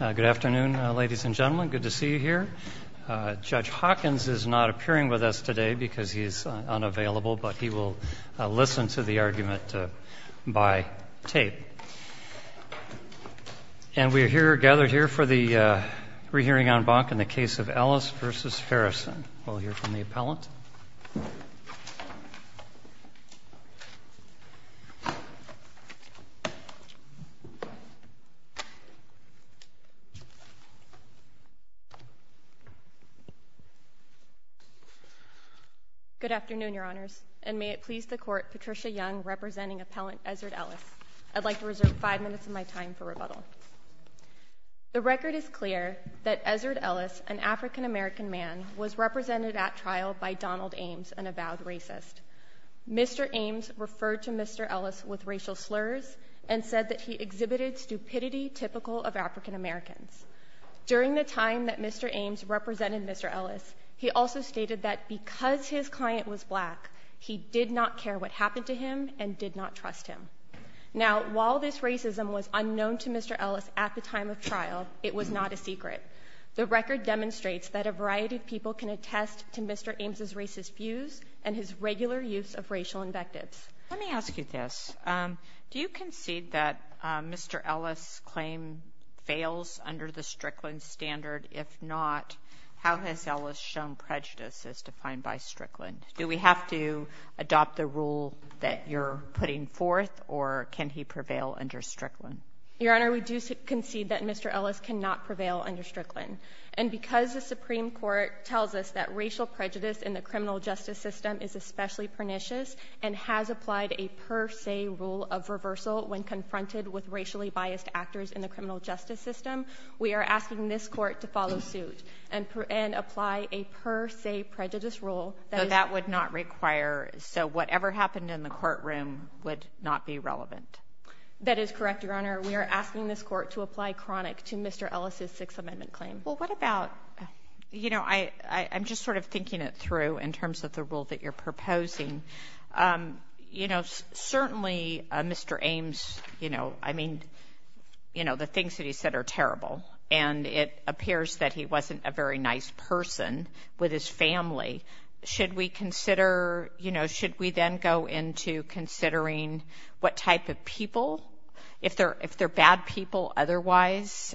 Good afternoon, ladies and gentlemen. Good to see you here. Judge Hawkins is not appearing with us today because he is unavailable, but he will listen to the argument by tape. And we are gathered here for the re-hearing on Bach in the case of Ellis v. Harrison. We'll go ahead and begin. Good afternoon, Your Honors, and may it please the Court, Patricia Young representing Appellant Ezzard Ellis. I'd like to reserve five minutes of my time for rebuttal. The record is clear that Ezzard Ellis, an African-American man, was represented at trial by Donald Ames, an avowed racist. Mr. Ames referred to Mr. Ellis with racial slurs and said that he exhibited stupidity typical of African-Americans. During the time that Mr. Ames represented Mr. Ellis, he also stated that because his client was black, he did not care what happened to him and did not trust him. Now, while this racism was unknown to Mr. Ellis at the time of trial, it was not a secret. The record demonstrates that a variety of people can attest to Mr. Ames' racist views and his regular use of racial invectives. Let me ask you this. Do you concede that Mr. Ellis' claim fails under the Strickland standard? If not, how has Ellis shown prejudice as defined by Strickland? Do we have to adopt the rule that you're putting forth, or can he prevail under Strickland? Your Honor, we that racial prejudice in the criminal justice system is especially pernicious and has applied a per se rule of reversal when confronted with racially biased actors in the criminal justice system. We are asking this court to follow suit and apply a per se prejudice rule that... So that would not require... So whatever happened in the courtroom would not be relevant? That is correct, Your Honor. We are asking this court to apply chronic to Mr. Ellis' Sixth Amendment claim. Well, what about... I'm just sort of thinking it through in terms of the rule that you're proposing. Certainly, Mr. Ames, the things that he said are terrible, and it appears that he wasn't a very nice person with his family. Should we then go into considering what type of people? If they're bad people otherwise,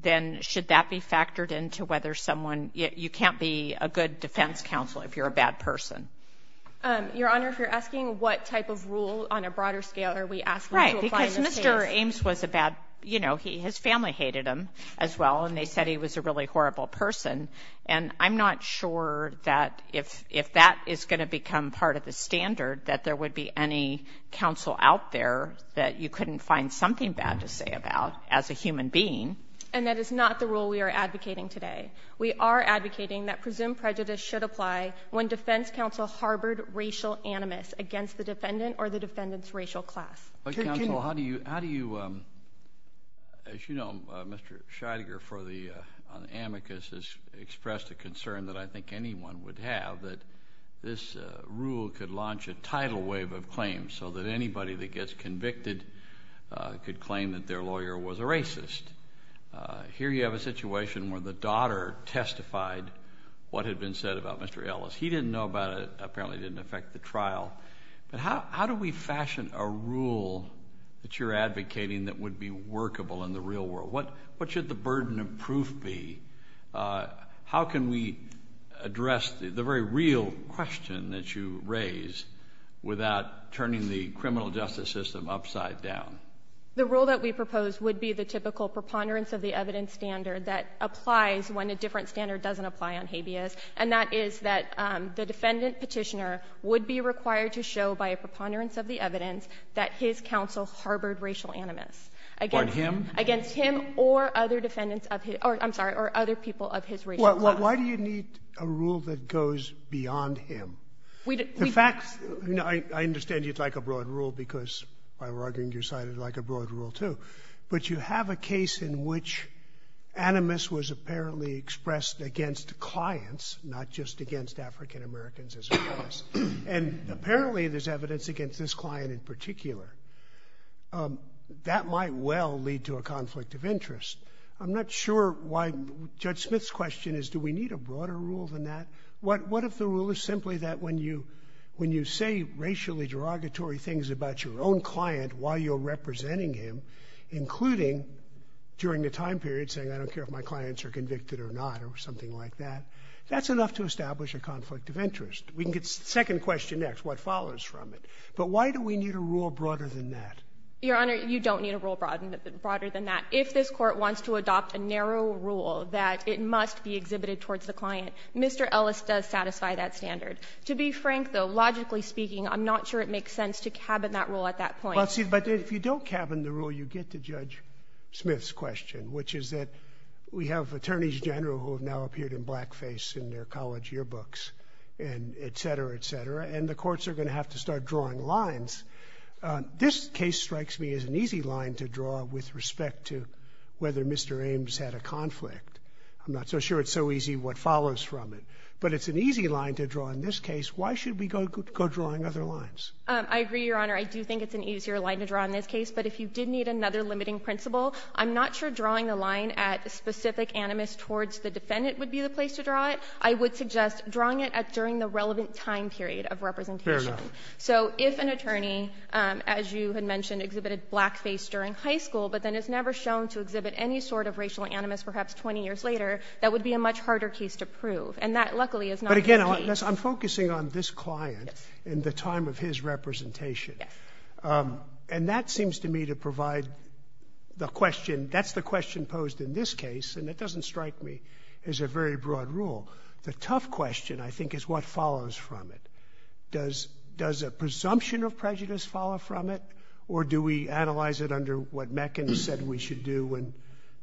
then should that be factored into whether someone... You can't be a good defense counsel if you're a bad person. Your Honor, if you're asking what type of rule on a broader scale are we asking to apply the same... Right, because Mr. Ames was a bad... His family hated him as well, and they said he was a really horrible person. And I'm not sure that if that is going to become part of the standard that there would be any counsel out there that you couldn't find something bad to say about as a human being. And that is not the rule we are advocating today. We are advocating that presumed prejudice should apply when defense counsel harbored racial animus against the defendant or the defendant's racial class. But counsel, how do you... As you know, Mr. Scheidegger for the amicus has expressed a concern that I think this rule could launch a tidal wave of claims so that anybody that gets convicted could claim that their lawyer was a racist. Here you have a situation where the daughter testified what had been said about Mr. Ellis. He didn't know about it. Apparently it didn't affect the trial. But how do we fashion a rule that you're advocating that would be workable in the real world? What should the burden of proof be? How can we address the very real question that you raised without turning the criminal justice system upside down? The rule that we propose would be the typical preponderance of the evidence standard that applies when a different standard doesn't apply on habeas. And that is that the defendant petitioner would be required to show by a preponderance of the evidence that his counsel harbored racial animus against him or other people of his racial class. Why do you need a rule that goes beyond him? In fact, I understand you'd like a broad rule because, by arguing your side, you'd like a broad rule too. But you have a case in which animus was apparently expressed against clients, not just against African-Americans as well. And apparently there's evidence against this client in particular. That might well lead to a conflict of interest. I'm not sure why Judge Smith's question is, do we need a broader rule than that? What if the rule is simply that when you say racially derogatory things about your own client while you're representing him, including during the time period, saying I don't care if my clients are convicted or not or something like that, that's enough to establish a conflict of interest. We can get to the second question next, what follows from it. But why do we need a rule broader than that? Your Honor, you don't need a rule broader than that. If this court wants to adopt a narrow rule that it must be exhibited towards the client, Mr. Ellis does satisfy that standard. To be frank, though, logically speaking, I'm not sure it makes sense to cabin that rule at that point. But if you don't cabin the rule, you get to Judge Smith's question, which is that we have attorneys general who have now appeared in blackface in their college yearbooks and et cetera to start drawing lines. This case strikes me as an easy line to draw with respect to whether Mr. Ames had a conflict. I'm not so sure it's so easy what follows from it. But it's an easy line to draw in this case. Why should we go drawing other lines? I agree, Your Honor. I do think it's an easier line to draw in this case. But if you did need another limiting principle, I'm not sure drawing the line at specific animus towards the defendant would be the place to draw it. I would suggest drawing it at during the relevant time period of representation. Fair enough. So if an attorney, as you had mentioned, exhibited blackface during high school, but then is never shown to exhibit any sort of racial animus, perhaps 20 years later, that would be a much harder case to prove. And that, luckily, is not the case. But again, I'm focusing on this client and the time of his representation. And that seems to me to provide the question. That's the question posed in this case. And it doesn't strike me as a very broad rule. The tough question, I think, is what follows from it. Does a presumption of prejudice follow from it? Or do we analyze it under what Meckin said we should do when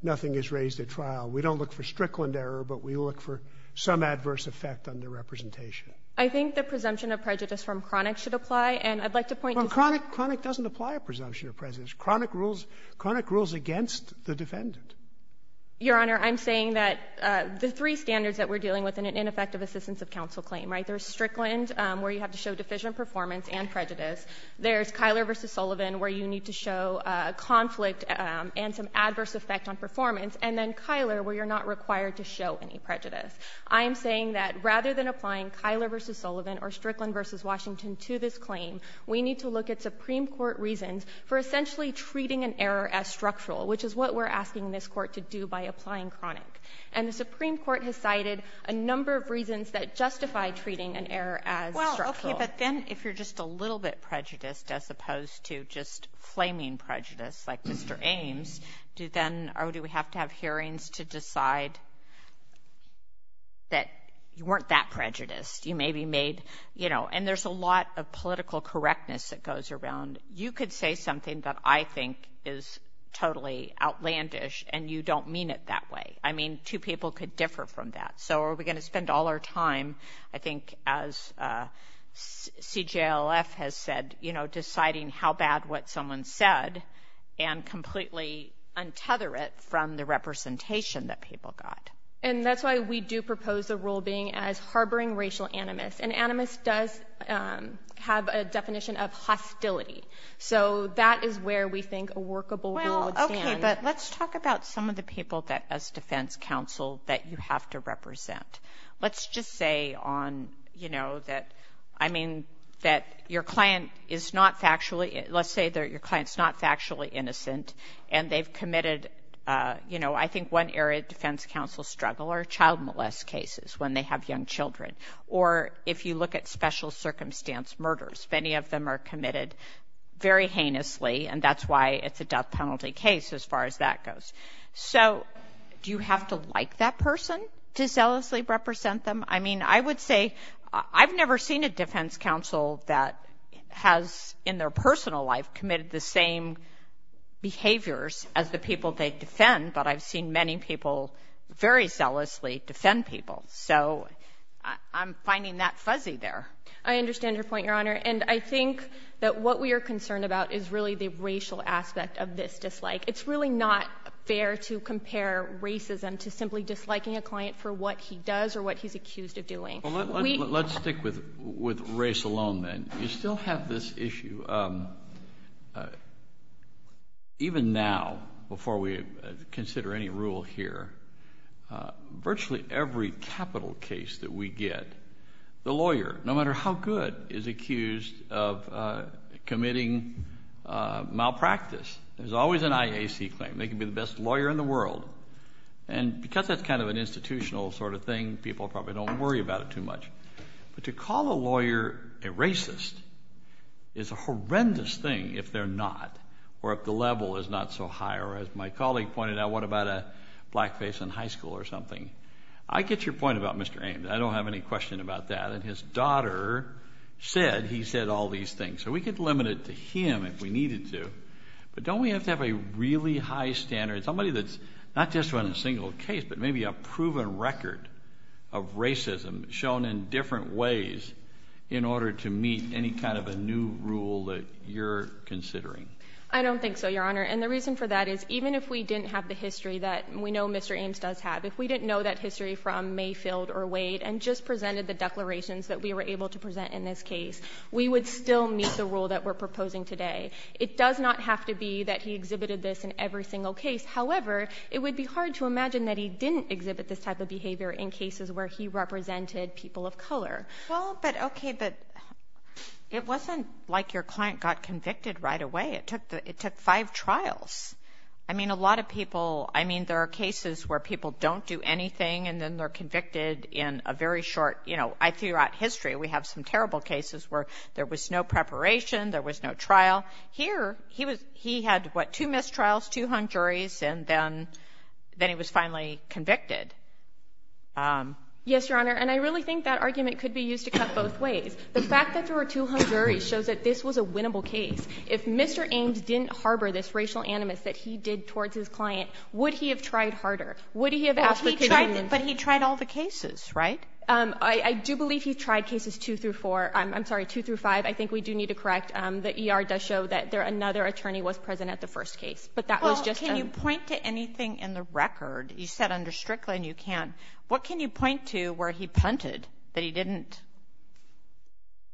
nothing is raised at trial? We don't look for Strickland error, but we look for some adverse effect on the representation. I think the presumption of prejudice from Cronic should apply. And I'd like to point to— From Cronic, Cronic doesn't apply a presumption of prejudice. Cronic rules against the defendant. Your Honor, I'm saying that the three standards that we're dealing with in an ineffective assistance of counsel claim, right? There's Strickland's, where you have to show deficient performance and prejudice. There's Kyler v. Sullivan, where you need to show a conflict and some adverse effect on performance. And then, Kyler, where you're not required to show any prejudice. I'm saying that rather than applying Kyler v. Sullivan or Strickland v. Washington to this claim, we need to look at Supreme Court reasons for essentially treating an error as structural, which is what we're asking this Court to do by applying Cronic. And the Supreme Court has cited a number of reasons that justify treating an error as structural. Well, okay, but then if you're just a little bit prejudiced as opposed to just claiming prejudice like Mr. Ames, do then—or do we have to have hearings to decide that you weren't that prejudiced? You maybe made—you know, and there's a lot of political correctness that goes around. You could say something that I think is totally outlandish, and you don't mean it that way. I mean, two people could differ from that. So are we going to spend all our time, I think, as CJLF has said, you know, deciding how bad what someone said and completely untether it from the representation that people got? And that's why we do propose a rule being as harboring racial animus. And animus does have a definition of hostility. So that is where we think a workable rule would stand. Okay, but let's talk about some of the people that, as defense counsel, that you have to represent. Let's just say on, you know, that—I mean, that your client is not factually—let's say that your client's not factually innocent, and they've committed, you know, I think one area defense counsel struggle are child molest cases when they have young children. Or if you look at special circumstance murders, many of them are committed very heinously, and that's why it's a death penalty case as far as that goes. So do you have to like that person to zealously represent them? I mean, I would say I've never seen a defense counsel that has in their personal life committed the same behaviors as the people they defend, but I've seen many people very zealously defend people. So I'm finding that fuzzy there. I understand your point, Your Honor. And I think that what we are concerned about is really the racial aspect of this dislike. It's really not fair to compare racism to simply disliking a client for what he does or what he's accused of doing. Let's stick with race alone, then. We still have this issue. Even now, before we consider any rule here, virtually every capital case that we get, the lawyer, no matter how good, is accused of committing malpractice. There's always an IAC claim. They can be the best lawyer in the world. And because that's kind of an institutional sort of thing, people probably don't worry about it too much. But to call a lawyer a racist is a horrendous thing if they're not, or if the level is not so high. Or as my colleague pointed out, what about a black face in high school or something? I get your point about Mr. Ames. I don't have any question about that. And his daughter said he said all these things. So we could limit it to him if we needed to. But don't we have to have a really high standard, somebody that's not just on a single case, but maybe a proven record of racism shown in different ways in order to meet any kind of a new rule that you're considering? I don't think so, Your Honor. And the reason for that is even if we didn't have the history that we know Mr. Ames does have, if we didn't know that history from Mayfield or Wade and just presented the declarations that we were able to present in this case, we would still meet the rule that we're proposing today. It does not have to be that he exhibited this in every single case. However, it would be hard to imagine that he didn't exhibit this type of behavior in cases where he represented people of color. Well, but okay, but it wasn't like your client got convicted right away. It took five trials. I mean, a lot of people, I mean, there are cases where people don't do anything, and then they're convicted in a very short, you know, throughout history, we have some terrible cases where there was no preparation, there was no trial. Here, he had, what, two mistrials, two hung juries, and then he was finally convicted. Yes, Your Honor, and I really think that argument could be used to cut both ways. The fact that there were two hung juries shows that this was a winnable case. If Mr. Ames didn't harbor this racial animus that he did towards his client, would he have tried harder? Would he have tried all the cases, right? I do believe he tried cases two through four, I'm sorry, two through five. I think we do need to correct. The ER does show that there, another attorney was present at the first case, but that was just... Well, can you point to anything in the record? You said under Strickland, you can't. What can you point to where he punted that he didn't,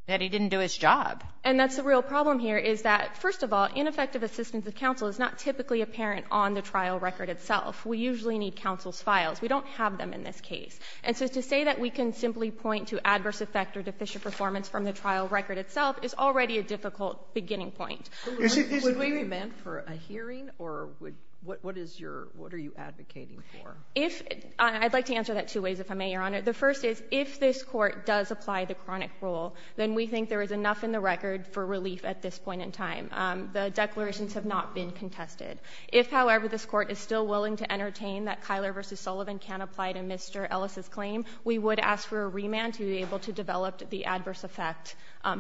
that he didn't do his job? And that's the real problem here is that, first of all, ineffective assistance of counsel is not typically apparent on the trial record itself. We usually need counsel's files. We don't have them in this case. And so to say that we can simply point to adverse effect or deficient performance from the trial record itself is already a difficult beginning point. Would we revenge for a hearing, or what is your, what are you advocating for? I'd like to answer that two ways, if I may, Your Honor. The first is, if this court does apply the chronic rule, then we think there is enough in the record for relief at this point in time. The declarations have not been contested. If, however, this court is still unable to prove that Mr. Sullivan can apply to Mr. Ellis' claim, we would ask for a remand to be able to develop the adverse effect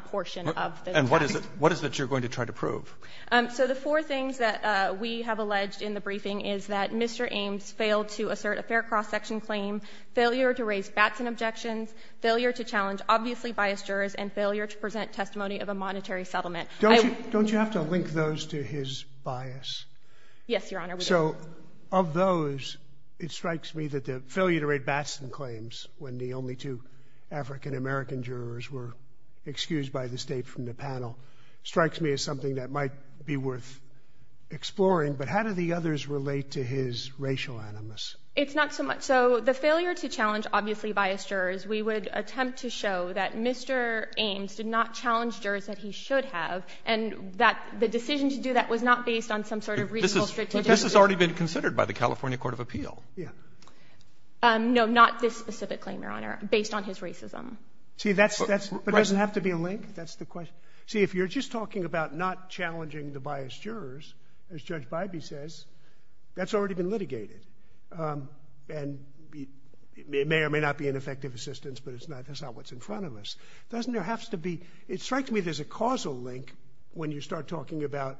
portion of this action. And what is it, what is it you're going to try to prove? So the four things that we have alleged in the briefing is that Mr. Ames failed to assert a fair cross-section claim, failure to raise Batson objections, failure to challenge obviously biased jurors, and failure to present testimony of a monetary settlement. Don't you, don't you have to link those to his bias? Yes, Your Honor, we do. And so, of those, it strikes me that the failure to raise Batson claims, when the only two African-American jurors were excused by the state from the panel, strikes me as something that might be worth exploring. But how do the others relate to his racial animus? It's not so much, so the failure to challenge obviously biased jurors, we would attempt to show that Mr. Ames did not challenge jurors that he should have, and that the decision to do that was not based on some sort of reasonable, strict objective. But this has already been considered by the California Court of Appeal. Yeah. No, not this specific claim, Your Honor, based on his racism. See, that's, that's, it doesn't have to be linked, that's the question. See, if you're just talking about not challenging the biased jurors, as Judge Bybee says, that's already been litigated. And it may or may not be an effective assistance, but it's not, that's not what's in front of us. Doesn't there have to be, it strikes me there's a causal link when you start talking about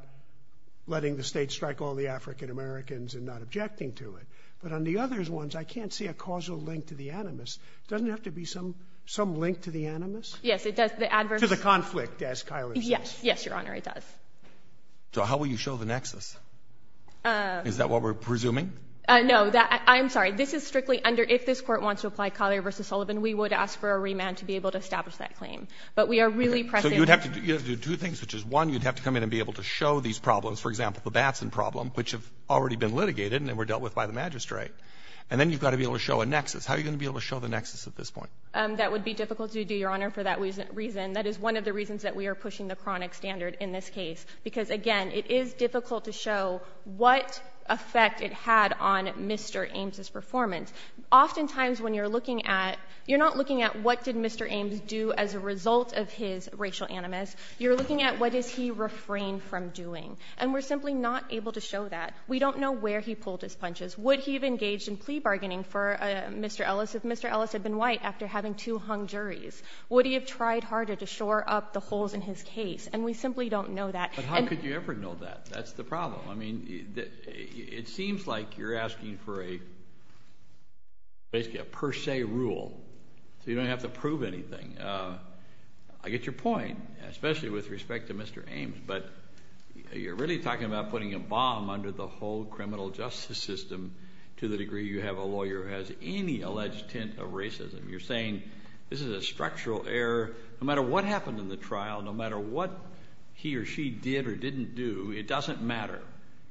letting the state strike all the African-Americans and not objecting to it. But on the other ones, I can't see a causal link to the animus. Doesn't it have to be some, some link to the animus? Yes, it does, the adverse... To the conflict, as Kyla says. Yes, yes, Your Honor, it does. So how will you show the nexus? Is that what we're presuming? No, that, I'm sorry, this is strictly under, if this court wants to apply Collier v. Sullivan, we would ask for a remand to be able to establish that claim. But we are really pressing... So you would have to do two things, which is one, you'd have to come in and be able to show these problems, for example, the Batson problem, which have already been litigated and they were dealt with by the magistrate. And then you've got to be able to show a nexus. How are you going to be able to show the nexus at this point? That would be difficult to do, Your Honor, for that reason. That is one of the reasons that we are pushing the chronic standard in this case. Because again, it is difficult to show what effect it had on Mr. Ames' performance. Oftentimes when you're looking at, you're not looking at what did Mr. Ames do as a result of his racial animus, you're looking at what does he refrain from doing. And we're simply not able to show that. We don't know where he pulled his punches. Would he have engaged in plea bargaining for Mr. Ellis if Mr. Ellis had been white after having two hung juries? Would he have tried harder to shore up the holes in his case? And we simply don't know that. But how could you ever know that? That's the problem. I mean, it seems like you're asking for a per se rule, so you don't have to prove anything. I get your point, especially with respect to Mr. Ames. But you're really talking about putting a bomb under the whole criminal justice system to the degree you have a lawyer who has any alleged tint of racism. You're saying this is a structural error. No matter what happened in the trial, no matter what he or she did or didn't do, it doesn't matter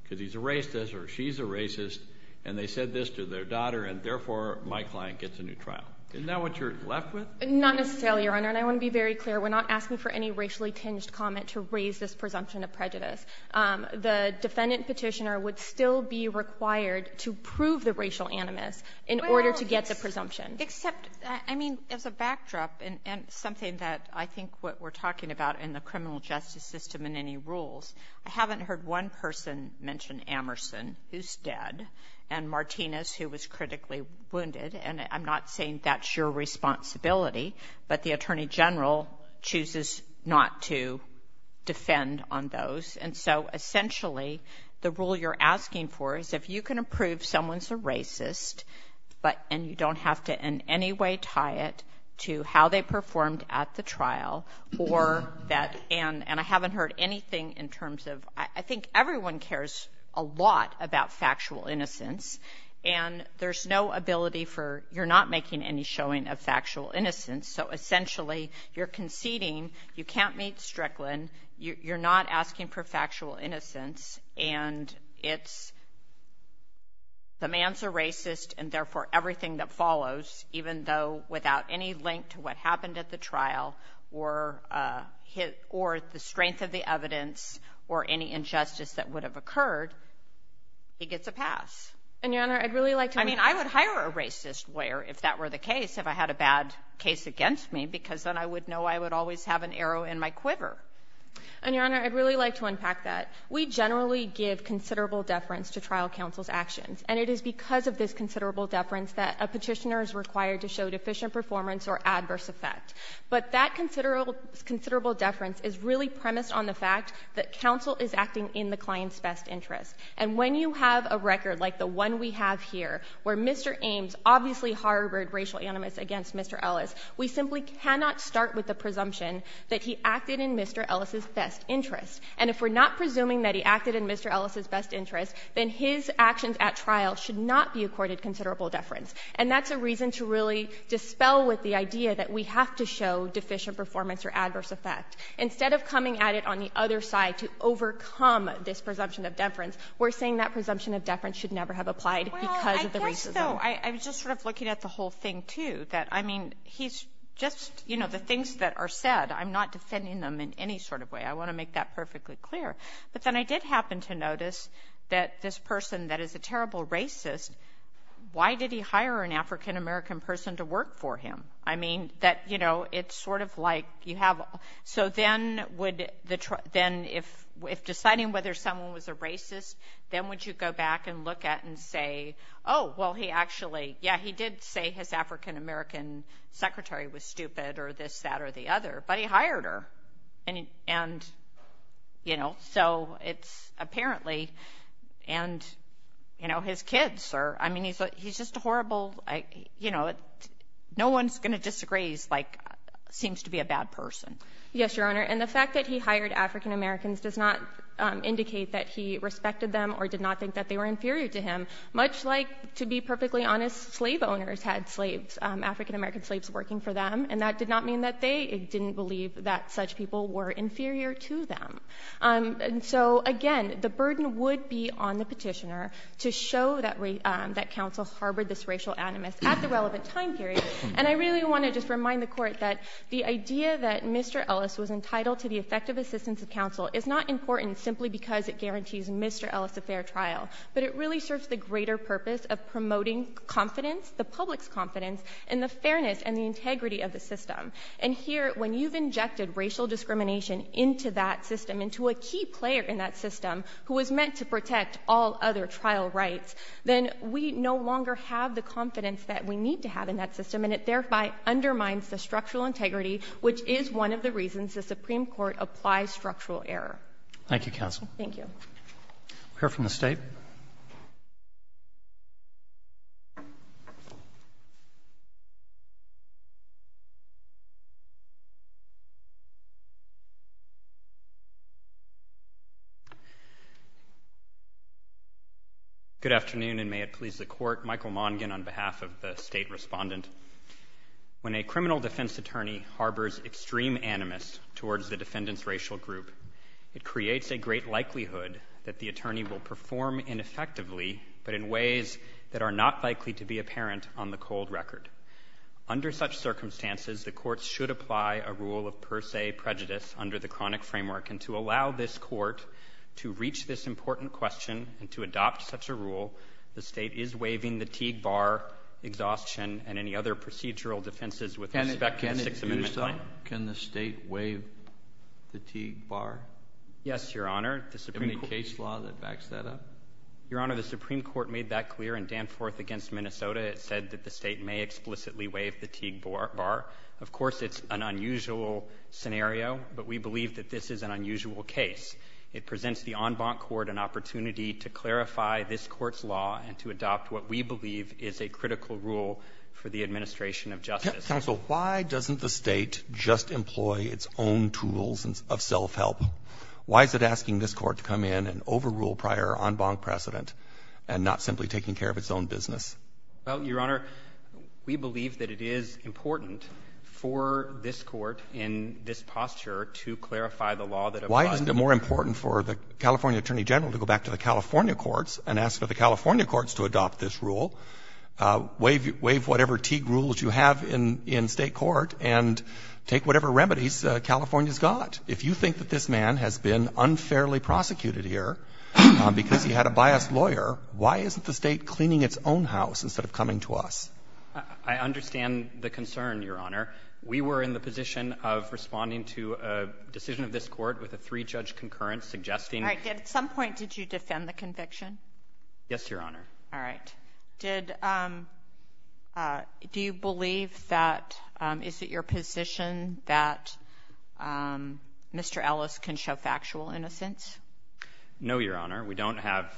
because he's a racist or she's a racist, and they said this to their daughter, and therefore, my client gets a new trial. Isn't that what you're left with? Not necessarily, Your Honor. And I want to be very clear. We're not asking for any racially tinged comment to raise this presumption of prejudice. The defendant petitioner would still be required to prove the racial animus in order to get the presumption. Except, I mean, as a backdrop, and something that I think what we're talking about in the criminal justice system and any rules, I haven't heard one person mention Amerson, who's dead, and Martinez, who was critically wounded. And I'm not saying that's your responsibility, but the Attorney General chooses not to defend on those. And so, essentially, the rule you're asking for is if you can prove someone's a racist, and you don't have to in any way tie it to how they performed at the trial, or that, and I haven't heard anything in terms of, I think everyone cares a lot about factual innocence, and there's no ability for, you're not making any showing of factual innocence. So, essentially, you're conceding, you can't meet Strickland, you're not asking for factual innocence, and it's, the man's a racist, and therefore, everything that follows, even though without any link to what happened at the trial, or the strength of the evidence, or any injustice that would have occurred, he gets a pass. And, Your Honor, I'd really like to... I mean, I would hire a racist lawyer if that were the case, if I had a bad case against me, because then I would know I would always have an arrow in my quiver. And, Your Honor, I'd really like to unpack that. We generally give considerable deference to trial counsel's actions, and it is because of this considerable deference that a petitioner is required to show deficient performance or adverse effect. But that considerable deference is really premised on the fact that counsel is acting in the client's best interest. And when you have a record like the one we have here, where Mr. Ames obviously harbored racial animus against Mr. Ellis, we simply cannot start with the presumption that he acted in Mr. Ellis' best interest. And if we're not presuming that he acted in Mr. Ellis' best interest, then his actions at trial should not be accorded considerable deference. And that's a reason to really dispel with the idea that we have to show deficient performance or adverse effect. Instead of coming at it on the other side to overcome this presumption of deference, we're saying that presumption of deference should never have applied because of the racial animus. I was just sort of looking at the whole thing, too, that, I mean, he's just... You know, the things that are said, I'm not dissenting them in any sort of way. I want to make that Why did he hire an African-American person to work for him? I mean, that, you know, it's sort of like you have... So then, if deciding whether someone was a racist, then would you go back and look at and say, oh, well, he actually, yeah, he did say his African-American secretary was stupid or this, that, or the other, but he hired her. And, you know, so it's apparently, and, you know, his kids are, I mean, he's just a horrible, you know, no one's going to disagree. He's like, seems to be a bad person. Yes, Your Honor. And the fact that he hired African-Americans does not indicate that he respected them or did not think that they were inferior to him, much like, to be perfectly honest, slave owners had slaves, African-American slaves working for them. And that did not mean that they didn't believe that such people were inferior to them. And so, again, the burden would be on the petitioner to show that counsel harbored this racial animus at the relevant time period. And I really want to just remind the court that the idea that Mr. Ellis was entitled to the effective assistance of counsel is not important simply because it guarantees Mr. Ellis a fair trial, but it really serves the greater purpose of promoting confidence, the public's confidence, and the fairness and the integrity of the system. And here, when you've injected racial discrimination into that system, into a key player in that system, who is meant to protect all other trial rights, then we no longer have the confidence that we need to have in that system. And it thereby undermines the structural integrity, which is one of the reasons the Supreme Court applies structural error. Thank you, counsel. Thank you. We'll hear from the State. Good afternoon, and may it please the Court. Michael Mongin on behalf of the State Respondent. When a criminal defense attorney harbors extreme animus towards the defendant's racial group, it creates a great likelihood that the attorney will perform ineffectively, but in ways that are not likely to be apparent on the cold record. Under such circumstances, the Court should apply a rule of per se prejudice under the chronic framework, and to allow this Court to reach this important question and to adopt such a rule, the State is waiving the Teague bar, exhaustion, and any other procedural defenses with respect to the Sixth Amendment. Can the State waive the Teague bar? Yes, Your Honor. Is there any case law that backs that up? Your Honor, the Supreme Court made that clear in Danforth against Minnesota. It said that the State may explicitly waive the Teague bar. Of course, it's an unusual scenario, but we believe that this is an unusual case. It presents the en banc court an opportunity to clarify this Court's law and to adopt what we believe is a critical rule for the administration of justice. Why doesn't the State just employ its own tools of self-help? Why is it asking this Court to come in and overrule prior en banc precedent and not simply taking care of its own business? Your Honor, we believe that it is important for this Court in this posture to clarify the law that applies. Why isn't it more important for the California Attorney General to go back to the California courts and ask for the California courts to adopt this rule? Waive whatever Teague rules you have in state court and take whatever remedies California's got. If you think that this man has been unfairly prosecuted here because he had a biased lawyer, why isn't the State cleaning its own house instead of coming to us? I understand the concern, Your Honor. We were in the position of responding to a decision of this Court with a three-judge concurrence suggesting... All right. At some point, did you defend the conviction? Yes, Your Honor. All right. Do you believe that... Is it your position that Mr. Ellis can show factual innocence? No, Your Honor. We don't have...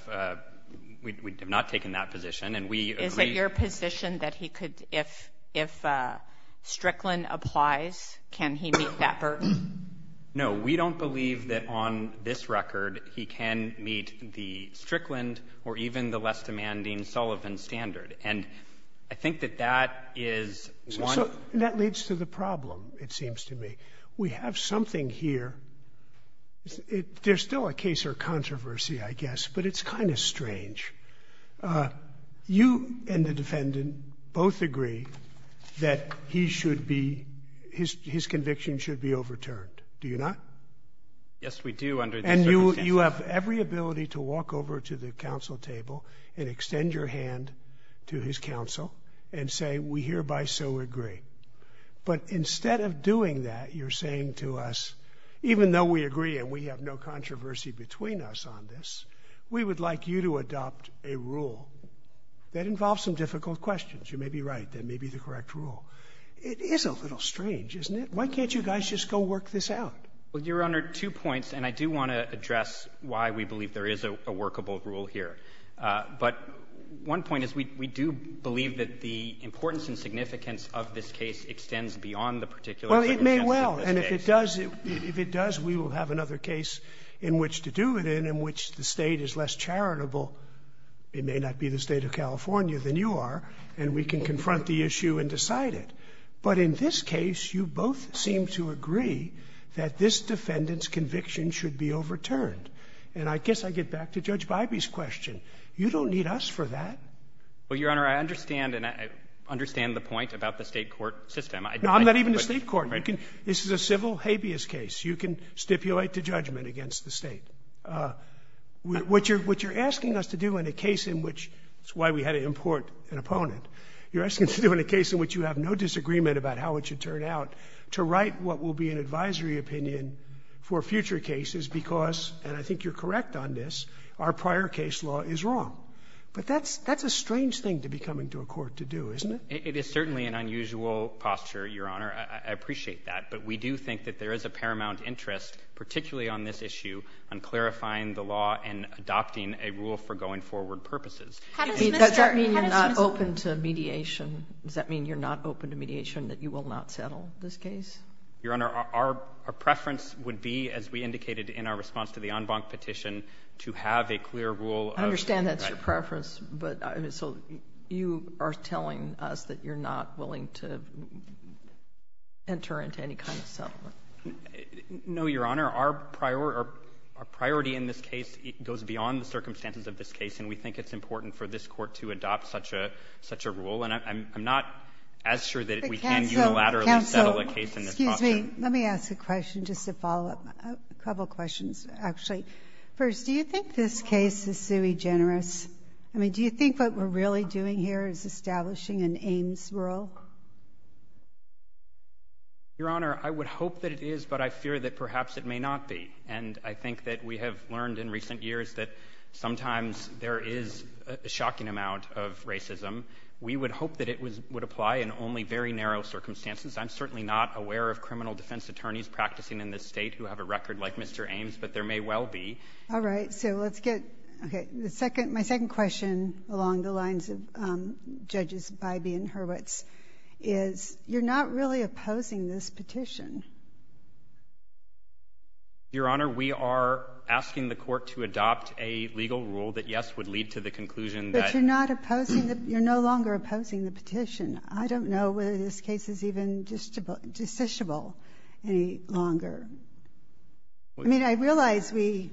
We have not taken that position, and we agree... Is it your position that if Strickland applies, can he meet that burden? No, we don't believe that on this record he can meet the Strickland or even the less demanding Sullivan standard, and I think that that is one... That leads to the problem, it seems to me. We have something here. There's still a case or controversy, I guess, but it's kind of strange. You and the defendant both agree that he should be... His conviction should be overturned, do you not? Yes, we do, under the... And you have every ability to walk over to the counsel table and extend your hand to his counsel and say, we hereby so agree. But instead of doing that, you're saying to us, even though we agree and we have no controversy between us on this, we would like you to adopt a rule that involves some difficult questions. You may be right, that may be the correct rule. It is a little strange, isn't it? Why can't you guys just go work this out? Well, Your Honor, two points, and I do want to address why we believe there is a workable rule here. But one point is we do believe that the importance and significance of this case extends beyond the particular... Well, it may well, and if it does, we will have another case in which to do it in, which the state is less charitable. It may not be the state of California than you are, and we can confront the issue and decide it. But in this case, you both seem to agree that this defendant's conviction should be overturned. And I guess I get back to Judge Bybee's question. You don't need us for that. Well, Your Honor, I understand, and I understand the point about the state court system. No, I'm not even the state court. This is a civil habeas case. You can stipulate the judgment against the state. What you're asking us to do in a case in which, that's why we had to import an opponent, you're asking us to do in a case in which you have no disagreement about how it should turn out, to write what will be an advisory opinion for future cases because, and I think you're correct on this, our prior case law is wrong. But that's a strange thing to be coming to a court to do, isn't it? It is certainly an unusual posture, Your Honor. I appreciate that. But we do think that there is a paramount interest, particularly on this issue, on clarifying the law and adopting a rule for going forward purposes. Does that mean you're not open to mediation? Does that mean you're not open to mediation, that you will not settle this case? Your Honor, our preference would be, as we indicated in our response to the en banc petition, to have a clear rule of... I understand that's your preference. So you are telling us that you're not willing to enter into any kind of settlement? No, Your Honor. Our priority in this case goes beyond the circumstances of this case, and we think it's important for this court to adopt such a rule. And I'm not as sure that we can unilaterally settle a case in this posture. Excuse me. Let me ask a question just to follow up. A couple questions, actually. First, do you think this case is sui generis? I mean, do you think what we're really doing here is establishing an aims rule? Your Honor, I would hope that it is, but I fear that perhaps it may not be. And I think that we have learned in recent years that sometimes there is a shocking amount of racism. We would hope that it would apply in only very narrow circumstances. I'm certainly not aware of criminal defense attorneys practicing in this state who have a record like Mr. Ames, but there may well be. All right. So let's get... Okay. My second question along the lines of Bybee and Hurwitz is, you're not really opposing this petition. Your Honor, we are asking the court to adopt a legal rule that, yes, would lead to the conclusion that... But you're not opposing the... You're no longer opposing the petition. I don't know whether this case is even deficible any longer. I mean, I realize we...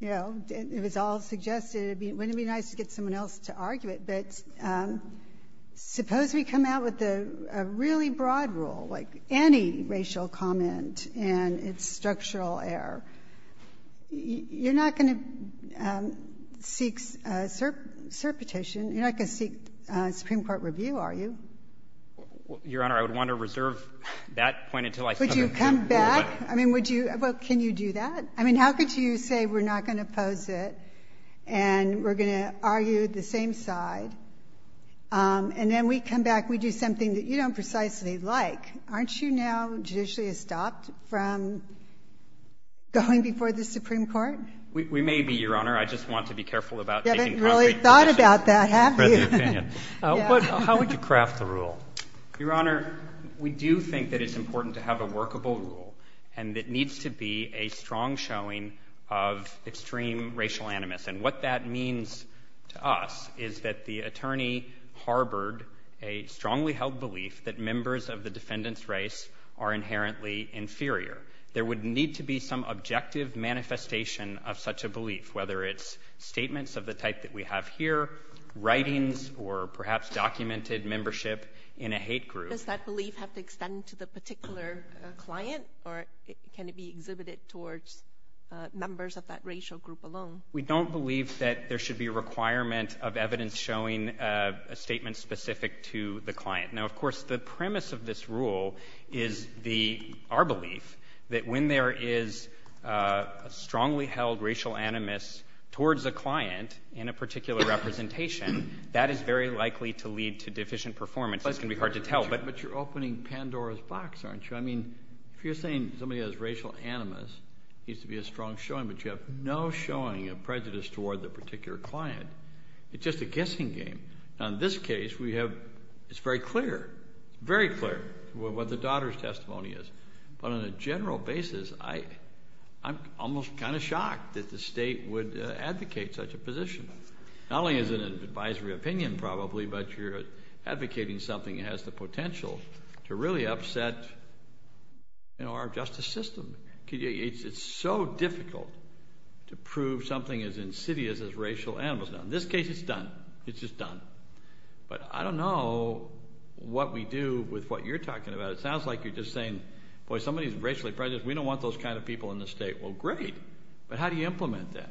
You know, it was all suggested. Wouldn't it be nice to get someone else to argue it? But suppose we come out with a really broad rule, like any racial comment, and it's structural error. You're not going to seek cert petition. You're not going to seek Supreme Court review, are you? Your Honor, I would want to reserve that point until I... Would you come back? I mean, would you... Well, can you do that? I mean, how could you say we're not going to oppose it, and we're going to argue the same side? And then we come back, we do something that you don't precisely like. Aren't you now judicially stopped from going before the Supreme Court? We may be, Your Honor. I just want to be careful about... You haven't really thought about that, have you? How would you craft the rule? Your Honor, we do think that it's important to have a workable rule, and it needs to be a strong showing of extreme racial animus. And what that means to us is that the attorney harbored a strongly held belief that members of the defendant's race are inherently inferior. There would need to be some objective manifestation of such a belief, whether it's statements of the type that we have here, writings, or perhaps documented membership in a hate group. Does that belief have to extend to the particular client, or can it be exhibited towards members of that racial group alone? We don't believe that there should be a requirement of evidence showing a statement specific to the client. Now, of course, the premise of this rule is our belief that when there is a strongly held racial animus towards the client in a particular representation, that is very likely to lead to deficient performance. That can be hard to tell, but... But you're opening Pandora's box, aren't you? I mean, if you're saying somebody has racial animus, needs to be a strong showing, but you have no showing of prejudice toward the particular client, it's just a guessing game. Now, in this case, we have... It's very clear, very clear what the daughter's testimony is. But on a general basis, I'm almost kind of shocked that the state would advocate something that has the potential to really upset our justice system. It's so difficult to prove something as insidious as racial animus. Now, in this case, it's done. It's just done. But I don't know what we do with what you're talking about. It sounds like you're just saying, boy, somebody's racially prejudiced. We don't want those kind of people in the state. Well, great, but how do you implement that?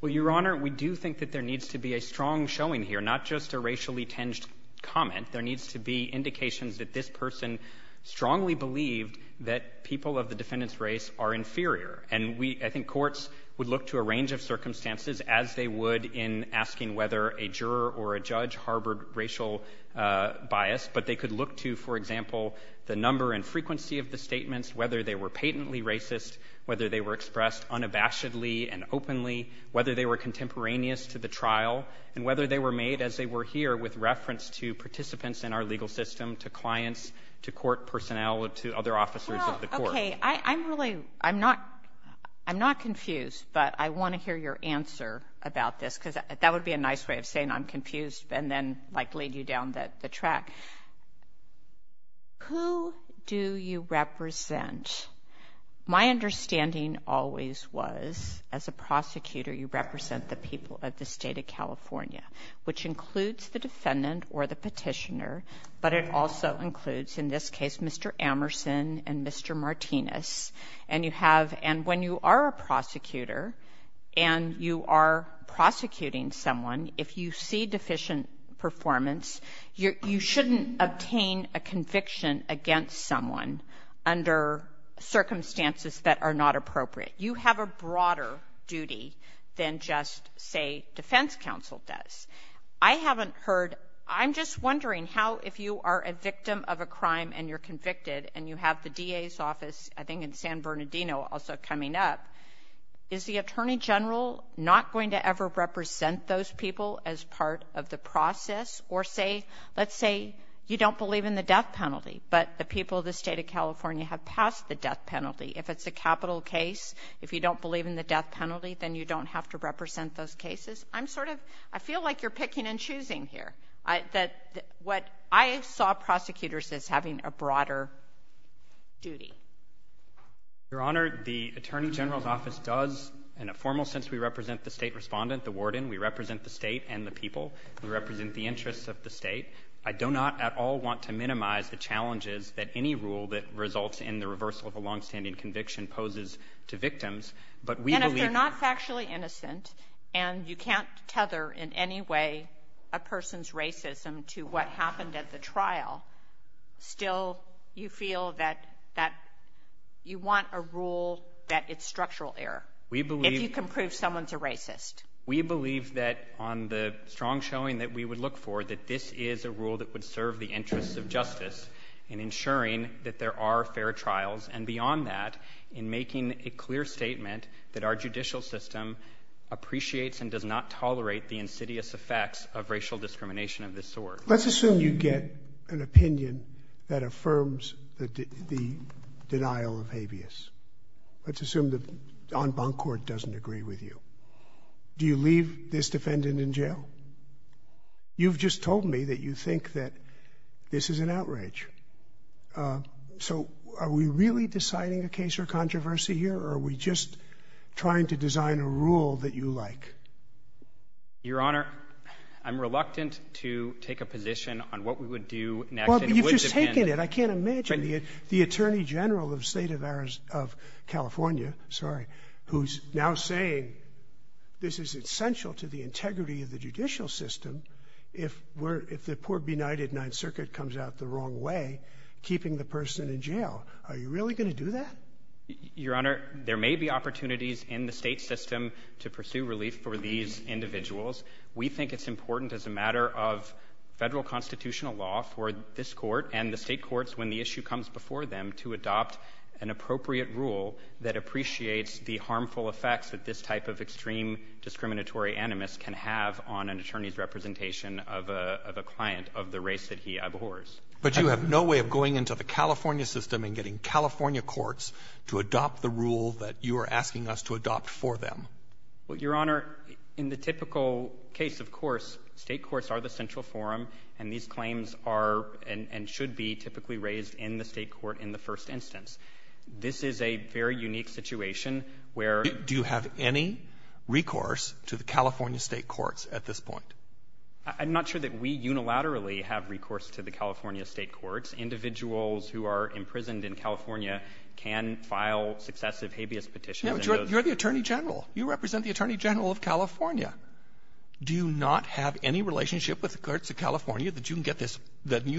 Well, Your Honor, we do think that there needs to be a strong showing here, not just a racially-tinged comment. There needs to be indications that this person strongly believed that people of the defendant's race are inferior. And I think courts would look to a range of circumstances, as they would in asking whether a juror or a judge harbored racial bias. But they could look to, for example, the number and frequency of the statements, whether they were patently racist, whether they were expressed unabashedly and openly, whether they were here with reference to participants in our legal system, to clients, to court personnel, to other officers of the court. I'm not confused, but I want to hear your answer about this, because that would be a nice way of saying I'm confused, and then lay you down the track. Who do you represent? My understanding always was, as a prosecutor, you represent the people of the state of California, which includes the defendant or the petitioner, but it also includes, in this case, Mr. Amerson and Mr. Martinez. And when you are a prosecutor and you are prosecuting someone, if you see deficient performance, you shouldn't obtain a conviction against someone under circumstances that are not appropriate. You have a broader duty than just, say, defense counsel does. I haven't heard, I'm just wondering how, if you are a victim of a crime and you're convicted, and you have the DA's office, I think in San Bernardino also coming up, is the attorney general not going to ever represent those people as part of the process? Or say, let's say you don't believe in the death penalty, but the people of the state of California have passed the death penalty. If it's a capital case, if you don't believe in the death penalty, then you don't have to represent those cases. I'm sort of, I feel like you're picking and choosing here. That what I saw prosecutors as having a broader duty. Your Honor, the attorney general's office does, in a formal sense, we represent the state respondent, the warden. We represent the state and the people. We represent the interests of the state. I do not at all want to minimize the challenges that any rule that results in the reversal of a long-standing conviction poses to victims, but we believe... And if you're not factually innocent, and you can't tether in any way a person's racism to what happened at the trial, still you feel that you want a rule that it's structural error, if you can prove someone's a racist. We believe that on the strong showing that we would look for, that this is a rule that would serve the interests of justice in ensuring that there are fair trials, and beyond that, in making a clear statement that our judicial system appreciates and does not tolerate the insidious effects of racial discrimination of this sort. Let's assume you get an opinion that affirms the denial of habeas. Let's assume En Bancourt doesn't agree with you. Do you leave this defendant in jail? You've just told me that you think that this is an outrage. So, are we really deciding a case for controversy here, or are we just trying to design a rule that you like? Your Honor, I'm reluctant to take a position on what we would do... Well, you've just taken it. I can't imagine. The Attorney General of State of California who's now saying this is essential to the integrity of the judicial system, if the poor benighted Ninth Circuit comes out the wrong way, keeping the person in jail. Are you really going to do that? Your Honor, there may be opportunities in the state system to pursue relief for these individuals. We think it's important as a matter of federal constitutional law for this court and the state courts, when the issue comes before them, to adopt an appropriate rule that appreciates the harmful effects that this type of extreme discriminatory animus can have on an attorney's representation of a client of the race that he abhors. But you have no way of going into the California system and getting California courts to adopt the rule that you are asking us to adopt for them. Your Honor, in the typical case, of course, state courts are the central forum, and these claims are and should be typically raised in the state court in the first instance. This is a very unique situation where... Do you have any recourse to the California state courts at this point? I'm not sure that we unilaterally have recourse to the California state courts. Individuals who are imprisoned in California can file successive habeas petitions... No, you're the Attorney General. You represent the Attorney General of California. Do you not have any relationship with the courts that you can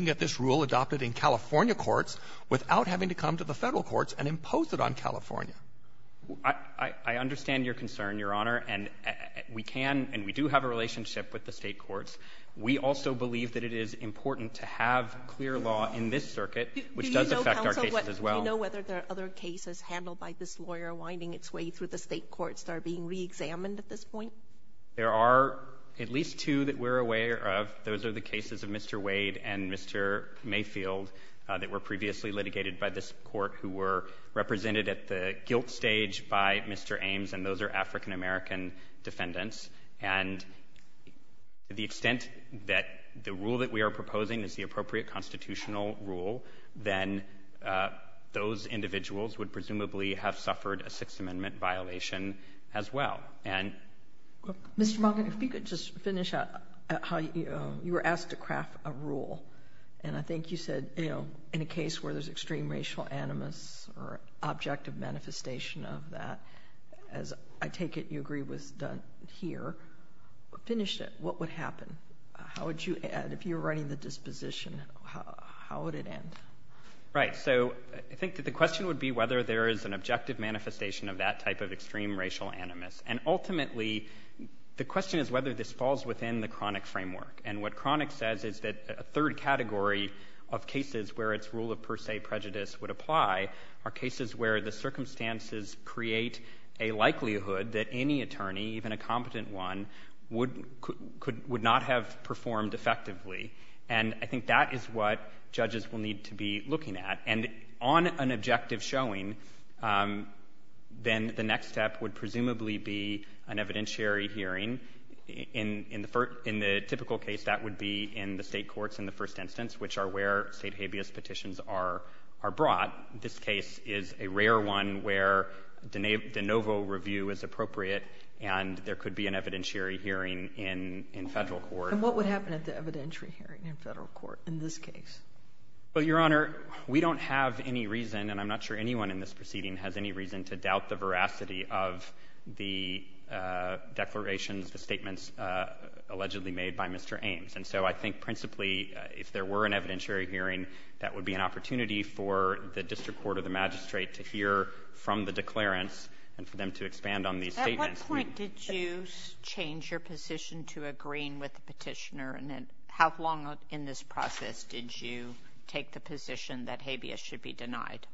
get this rule adopted in California courts without having to come to the federal courts and impose it on California? I understand your concern, Your Honor, and we do have a relationship with the state courts. We also believe that it is important to have clear law in this circuit, which does affect our cases as well. Do you know whether there are other cases handled by this lawyer winding its way through the state courts that are being reexamined at this point? There are at least two that we're aware of. Those are the cases of Mr. Wade and Mr. Mayfield that were previously litigated by this court, who were represented at the guilt stage by Mr. Ames, and those are African American defendants. And to the extent that the rule that we are proposing is the appropriate constitutional rule, then those individuals would presumably have suffered a Sixth Amendment violation as well. And Mr. Monk, if you could just finish up how you were asked to craft a rule, and I think you said, you know, in a case where there's extreme racial animus or objective manifestation of that, as I take it you agree with Doug here, finish it. What would happen? How would you, if you're writing the disposition, how would it end? Right. So I think that the question would be whether there is an objective manifestation of that type of extreme racial animus. And ultimately, the question is whether this falls within the chronic framework. And what chronic says is that a third category of cases where its rule of per se prejudice would apply are cases where the circumstances create a likelihood that any attorney, even a competent one, would not have performed effectively. And I think that is what then the next step would presumably be an evidentiary hearing. In the typical case, that would be in the state courts in the first instance, which are where state habeas petitions are brought. This case is a rare one where the NOVO review is appropriate, and there could be an evidentiary hearing in federal court. And what would happen at the evidentiary hearing in federal court in this case? Well, Your Honor, we don't have any reason, and I'm not sure anyone in this to doubt the veracity of the declarations, the statements allegedly made by Mr. Ames. And so I think principally, if there were an evidentiary hearing, that would be an opportunity for the district court or the magistrate to hear from the declarant and for them to expand on these statements. At what point did you change your position to agreeing with the petitioner? And how long in this process did you take the position that habeas should be denied?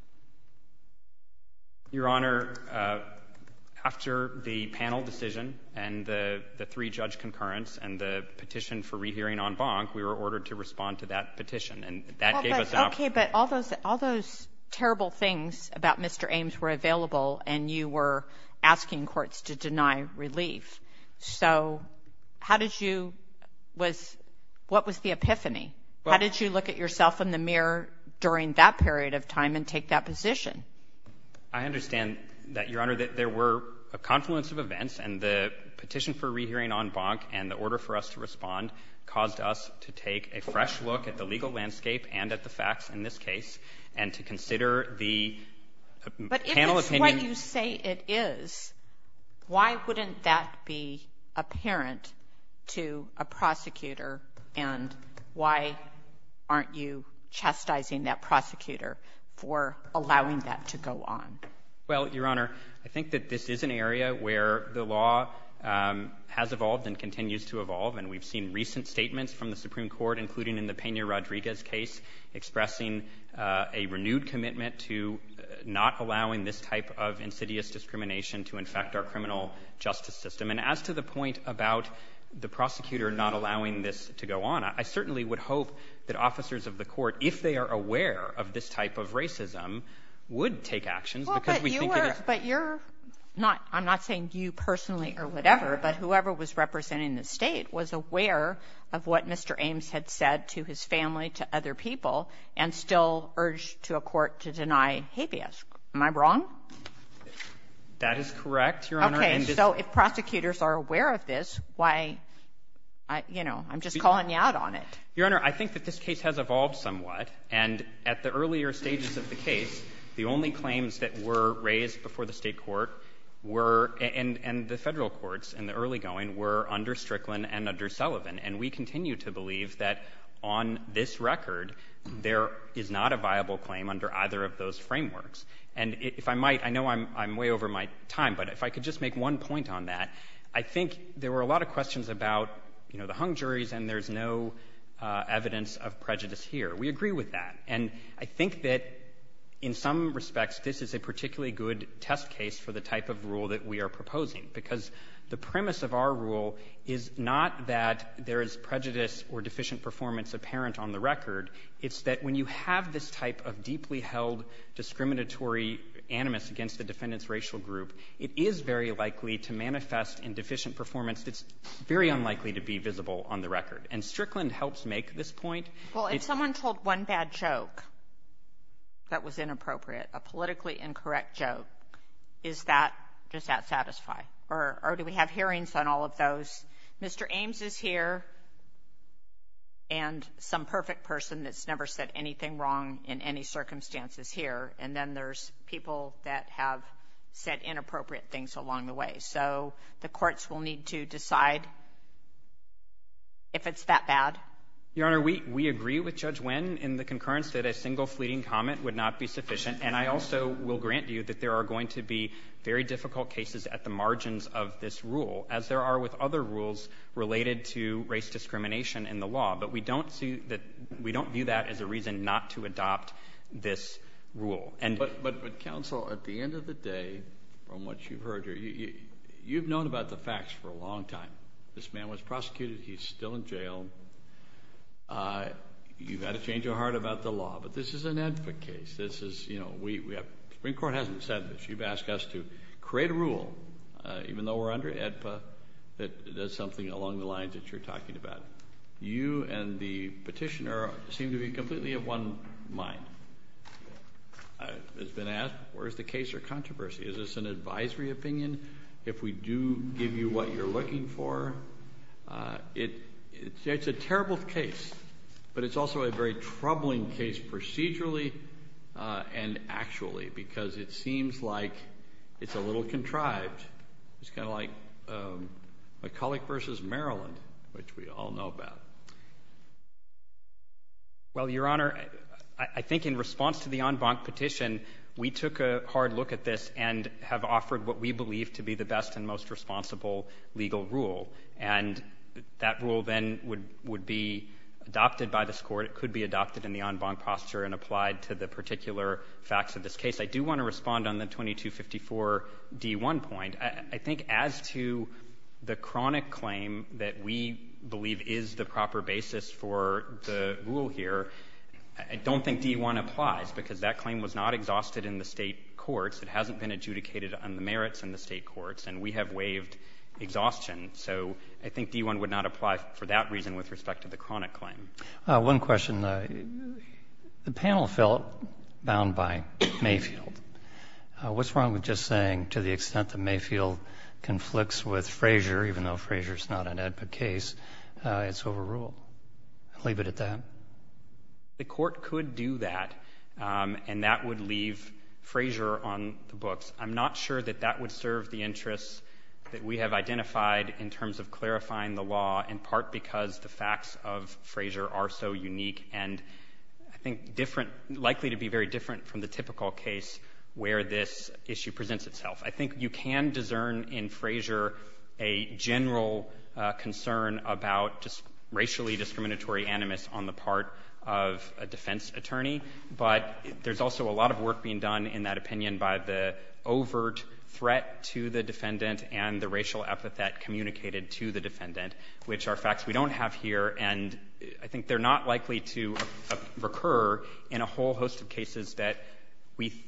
Your Honor, after the panel decision and the three judge concurrence and the petition for rehearing en banc, we were ordered to respond to that petition, and that gave us an option. Okay, but all those terrible things about Mr. Ames were available, and you were asking courts to deny relief. So how did you, what was the epiphany? How did you look at yourself in the that position? I understand that, Your Honor, that there were a confluence of events, and the petition for rehearing en banc and the order for us to respond caused us to take a fresh look at the legal landscape and at the facts in this case and to consider the panel opinion. But if it's what you say it is, why wouldn't that be apparent to a prosecutor? And why aren't you chastising that prosecutor for allowing that to go on? Well, Your Honor, I think that this is an area where the law has evolved and continues to evolve, and we've seen recent statements from the Supreme Court, including in the Pena-Rodriguez case, expressing a renewed commitment to not allowing this type of insidious discrimination to infect our criminal justice system. And as to the point about the prosecutor not allowing this to go on, I certainly would hope that officers of the court, if they are aware of this type of racism, would take action. But you're not, I'm not saying you personally or whatever, but whoever was representing the state was aware of what Mr. Ames had said to his family, to other people, and still urged to a court to deny habeas. Am I wrong? That is correct, Your Honor. Okay, so if prosecutors are aware of this, why, you know, I'm just calling you out on Your Honor, I think that this case has evolved somewhat, and at the earlier stages of the case, the only claims that were raised before the state court were, and the federal courts in the early going, were under Strickland and under Sullivan. And we continue to believe that on this record, there is not a viable claim under either of those frameworks. And if I might, I know I'm way over my time, but if I could just make one point on that, I think there were a lot of questions about, you know, the hung juries, and there's no evidence of prejudice here. We agree with that. And I think that in some respects, this is a particularly good test case for the type of rule that we are proposing, because the premise of our rule is not that there is prejudice or deficient performance apparent on the record. It's that when you have this type of deeply held discriminatory animus against the defendant's racial group, it is very likely to manifest in deficient performance. It's very unlikely to be visible on the record. And Strickland helps make this point. Well, if someone told one bad joke that was inappropriate, a politically incorrect joke, is that, does that satisfy? Or do we have hearings on all of those? Mr. Ames is here, and some perfect person that's never said anything wrong in any circumstances here, and then there's people that have said inappropriate things along the way. So the courts will need to decide if it's that bad. Your Honor, we agree with Judge Wynn in the concurrence that a single fleeting comment would not be sufficient. And I also will grant you that there are going to be very difficult cases at the margins of this rule, as there are with other rules related to race discrimination in the law. But we don't view that as a reason not to adopt this rule. But counsel, at the end of the day, from what you've heard here, you've known about the facts for a long time. This man was prosecuted. He's still in jail. You've had a change of heart about the law, but this is an AEDPA case. The Supreme Court hasn't said this. You've asked us to create a rule, even though we're under AEDPA, that does something along the lines that you're talking about. You and the petitioner seem to be completely of one mind. It's been asked, where's the case or controversy? Is this an advisory opinion, if we do give you what you're looking for? It's a terrible case, but it's also a very troubling case procedurally and actually, because it seems like it's a little contrived. It's kind of like McCulloch versus Maryland, which we all know about. Well, Your Honor, I think in response to the en banc petition, we took a hard look at this and have offered what we believe to be the best and most responsible legal rule. And that rule then would be adopted by this court. It could be adopted in the en banc posture and applied to the particular facts of this case. I do want to respond on the 2254 D1 point. I think as to the chronic claim that we believe is the proper basis for the rule here, I don't think D1 applies because that claim was not exhausted in the state courts. It hasn't been adjudicated on the merits in the state courts and we have waived exhaustion. So I think D1 would not apply for that reason with respect to the chronic claim. One question. The panel felt bound by Mayfield. What's wrong with just saying to the extent that Mayfield conflicts with Frazier, even though Frazier's not an ad hoc case, it's overruled. I'll leave it at that. The court could do that and that would leave Frazier on the books. I'm not sure that that would serve the interests that we have identified in terms of clarifying the law, in part because the facts of Frazier are so unique and I think likely to be very different from the typical case where this issue presents itself. I think you can discern in Frazier a general concern about just racially discriminatory animus on the part of a defense attorney, but there's also a lot of work being done in that opinion by the overt threat to the defendant and the racial epithet communicated to the defendant, which are facts we don't have and I think they're not likely to recur in a whole host of cases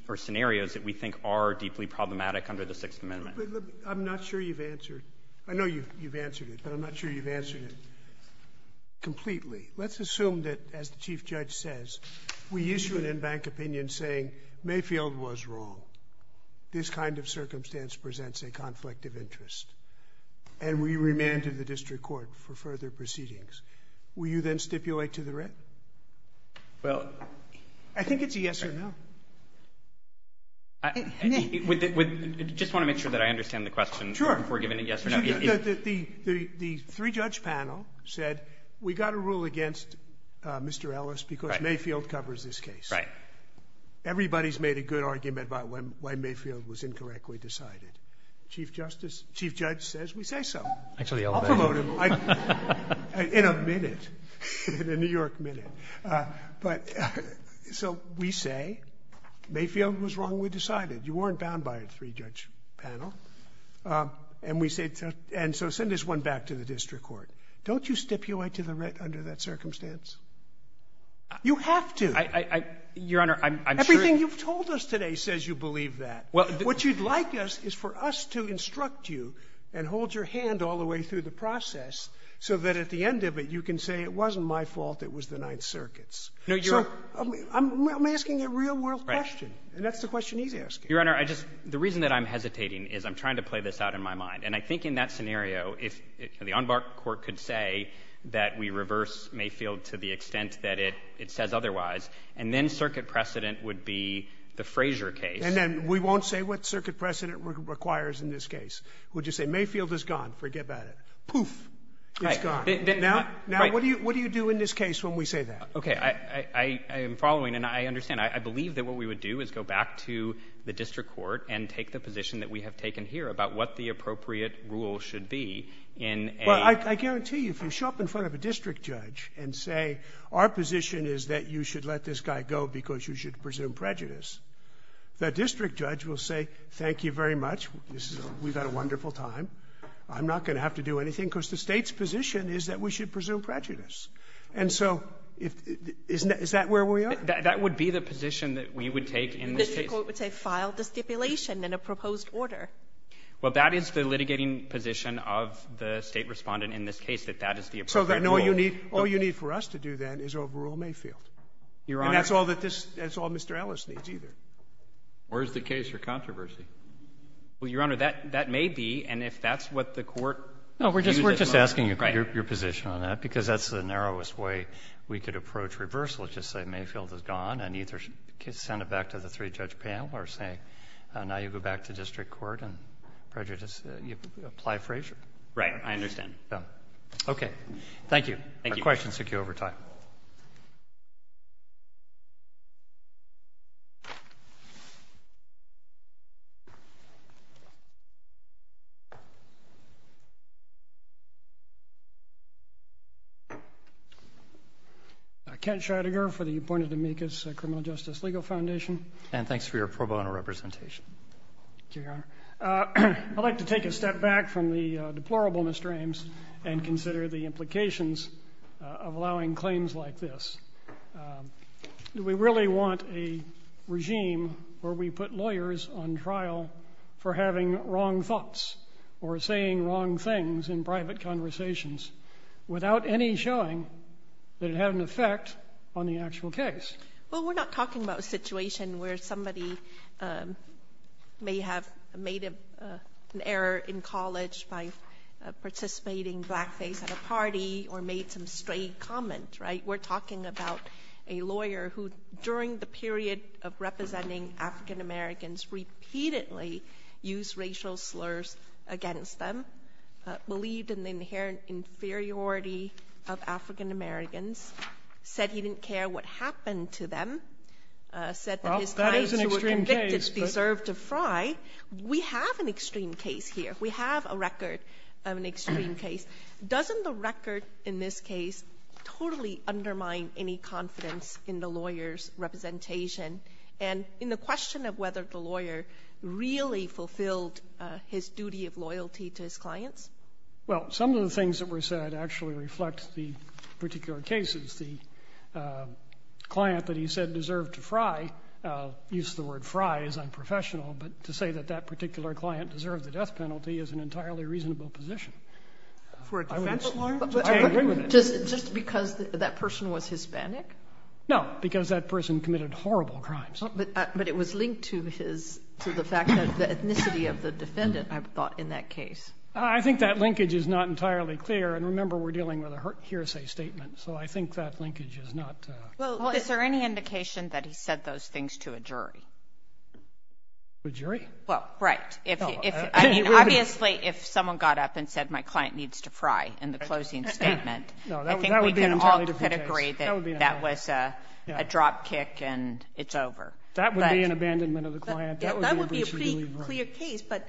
or scenarios that we think are deeply problematic under the Sixth Amendment. I'm not sure you've answered. I know you've answered it, but I'm not sure you've answered it completely. Let's assume that, as the Chief Judge says, we issue an in-bank opinion saying Mayfield was wrong. This kind of circumstance presents a Will you then stipulate to the rest? Well, I think it's a yes or no. Just want to make sure that I understand the question. The three-judge panel said, we got a rule against Mr. Ellis because Mayfield covers this case. Everybody's made a good argument about when Mayfield was incorrectly decided. Chief Judge says we say so. I'll promote him. In a minute. In a New York minute. So we say Mayfield was wrong, we decided. You weren't bound by a three-judge panel. And so send this one back to the district court. Don't you stipulate to the rest under that circumstance? You have to. Your Honor, I'm sure... Everything you've told us today says you believe that. What you'd like us is for us to instruct you and hold your hand all the way through the process so that at the end of it, you can say it wasn't my fault, it was the Ninth Circuit's. I'm asking a real-world question, and that's the question he's asking. Your Honor, the reason that I'm hesitating is I'm trying to play this out in my mind. And I think in that scenario, if the Enbar Court could say that we reverse Mayfield to the extent that it says otherwise, and then circuit precedent would be the Frazier case. And then we won't say what about it. Poof, it's gone. Now, what do you do in this case when we say that? Okay, I am following, and I understand. I believe that what we would do is go back to the district court and take the position that we have taken here about what the appropriate rule should be in a... But I guarantee you, if you show up in front of a district judge and say, our position is that you should let this guy go because you should presume prejudice, the district judge will say, thank you very much, we've had a wonderful time. I'm not going to have to do anything because the state's position is that we should presume prejudice. And so, is that where we are? That would be the position that we would take in this case. The district court would say, file the stipulation in a proposed order. Well, that is the litigating position of the state respondent in this case, that that is the appropriate rule. So then all you need for us to do then is overrule Mayfield. Your Honor... And that's all that this... That's all Mr. Ellis needs either. Where's the case for controversy? Well, Your Honor, that may be, and if that's what the court... No, we're just asking your position on that because that's the narrowest way we could approach reversal. Let's just say Mayfield is gone and either send it back to the three-judge panel or say, now you go back to district court and prejudice, you apply Frazier. Right. I understand. Okay. Thank you. Thank you. Our questions took you over time. Kent Shatiger for the Appointed Amicus Criminal Justice Legal Foundation. And thanks for your pro bono representation. Thank you, Your Honor. I'd like to take a step back from the deplorable, Mr. Ames, and consider the implications of allowing claims like this. We really want a regime where we put lawyers on trial for having wrong thoughts or saying wrong things in private conversations without any showing that it had an effect on the actual case. Well, we're not talking about a situation where somebody may have made an error in college by participating blackface at a party or made some stray comment, right? We're talking about a lawyer who, during the period of representing African Americans, repeatedly used racial slurs against them, believed in the inherent inferiority of African Americans, said he didn't care what happened to them, said that his clients who were convicted deserved to fry. We have an extreme case here. We have a record of an extreme case. Doesn't the record in this case totally undermine any confidence in the lawyer's representation? And in the question of whether the lawyer really fulfilled his duty of loyalty to his clients? Well, some of the things that were said actually reflect the particular cases. The client that he said deserved to fry used the word fry as unprofessional, but to say that that particular client deserved the death penalty is an entirely reasonable position. Just because that person was Hispanic? No, because that person committed horrible crimes. But it was linked to the fact that the ethnicity of the defendant, I've thought, in that case. I think that linkage is not entirely clear. And remember, we're dealing with a hearsay statement, so I think that linkage is not... Well, is there any indication that he said those things to a jury? A jury? Well, right. Obviously, if someone got up and said, my client needs to fry, in the closing statement, I think we can all agree that that was a drop kick and it's over. That would be an abandonment of the client. That would be... But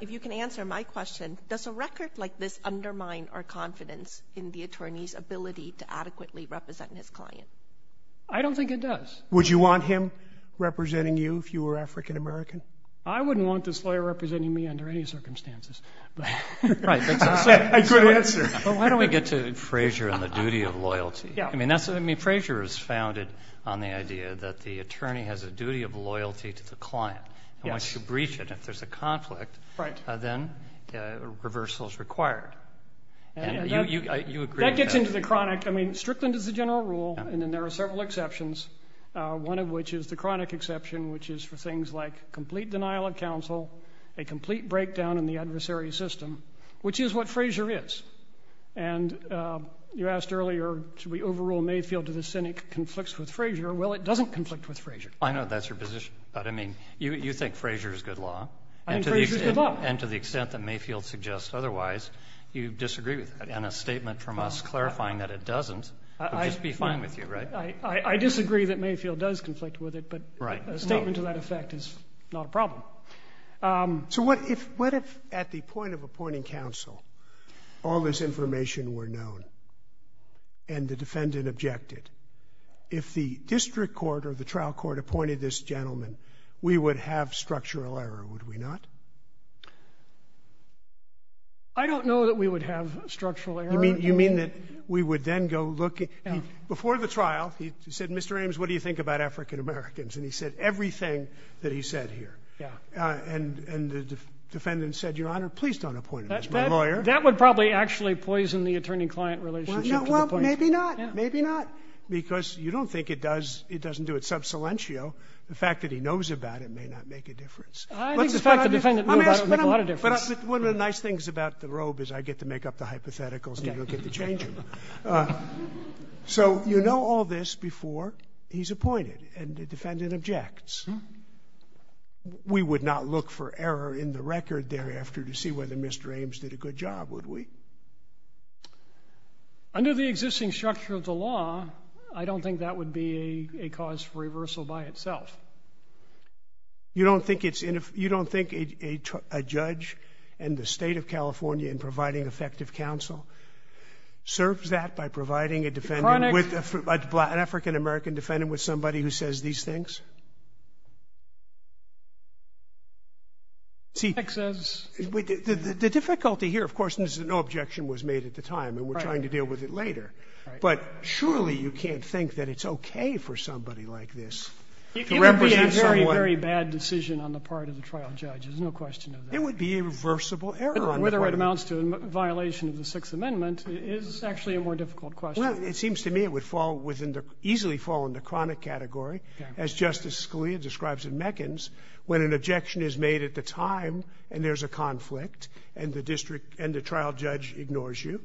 if you can answer my question, does a record like this undermine our confidence in the attorney's ability to adequately represent his client? I don't think it does. Would you want him representing you if you were African-American? I wouldn't want this lawyer representing me under any circumstances. But why don't we get to Frazier and the duty of loyalty? I mean, Frazier is founded on the idea that the attorney has a duty of loyalty to the client. And once you breach it, if there's a conflict, then reversal is required. And you agree with that? That gets into the chronic. I mean, strictly into the general rule. And then there are several exceptions, one of which is the chronic exception, which is for things like complete denial of counsel, a complete breakdown in the adversary system, which is what Frazier is. And you asked earlier, should we overrule Mayfield if the Senate conflicts with Frazier? Well, it doesn't conflict with Frazier. I know that's your position, but I mean, you think Frazier is good law. And to the extent that Mayfield suggests otherwise, you disagree with that. And a statement from us clarifying that it doesn't would just be fine with you, right? I disagree that Mayfield does conflict with it, but a statement to that effect is not a problem. So what if at the point of and the defendant objected, if the district court or the trial court appointed this gentleman, we would have structural error, would we not? I don't know that we would have structural error. You mean that we would then go look at before the trial, he said, Mr. Ames, what do you think about African-Americans? And he said everything that he said here. And the defendant said, Your Honor, please don't appoint a lawyer. That would probably actually poison the attorney client relationship. Maybe not, because you don't think it does. It doesn't do it sub silentio. The fact that he knows about it may not make a difference. One of the nice things about the robe is I get to make up the hypotheticals. So, you know, all this before he's appointed and the defendant objects. We would not look for error in the record thereafter to see whether Mr. Ames did a good job, would we? Under the existing structure of the law, I don't think that would be a cause for reversal by itself. You don't think it's you don't think a judge in the state of California in providing effective counsel serves that by providing a defendant with an African-American defendant with somebody who says these things? The difficulty here, of course, is that no objection was made at the time and we're trying to deal with it later. But surely you can't think that it's OK for somebody like this to represent someone. It would be a very, very bad decision on the part of the trial judge. There's no question of that. It would be a reversible error. Whether it amounts to a violation of the Sixth Amendment is actually a more difficult question. It seems to me it would fall within the easily fall in the chronic category, as Justice Scalia describes in Meckens, when an objection is made at the time and there's a conflict and the district and the trial judge ignores you,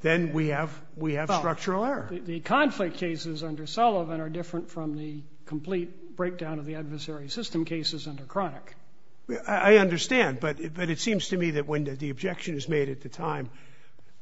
then we have we have structural error. The conflict cases under Sullivan are different from the complete breakdown of the adversary system cases under chronic. I understand, but it seems to me that when the objection is at the time,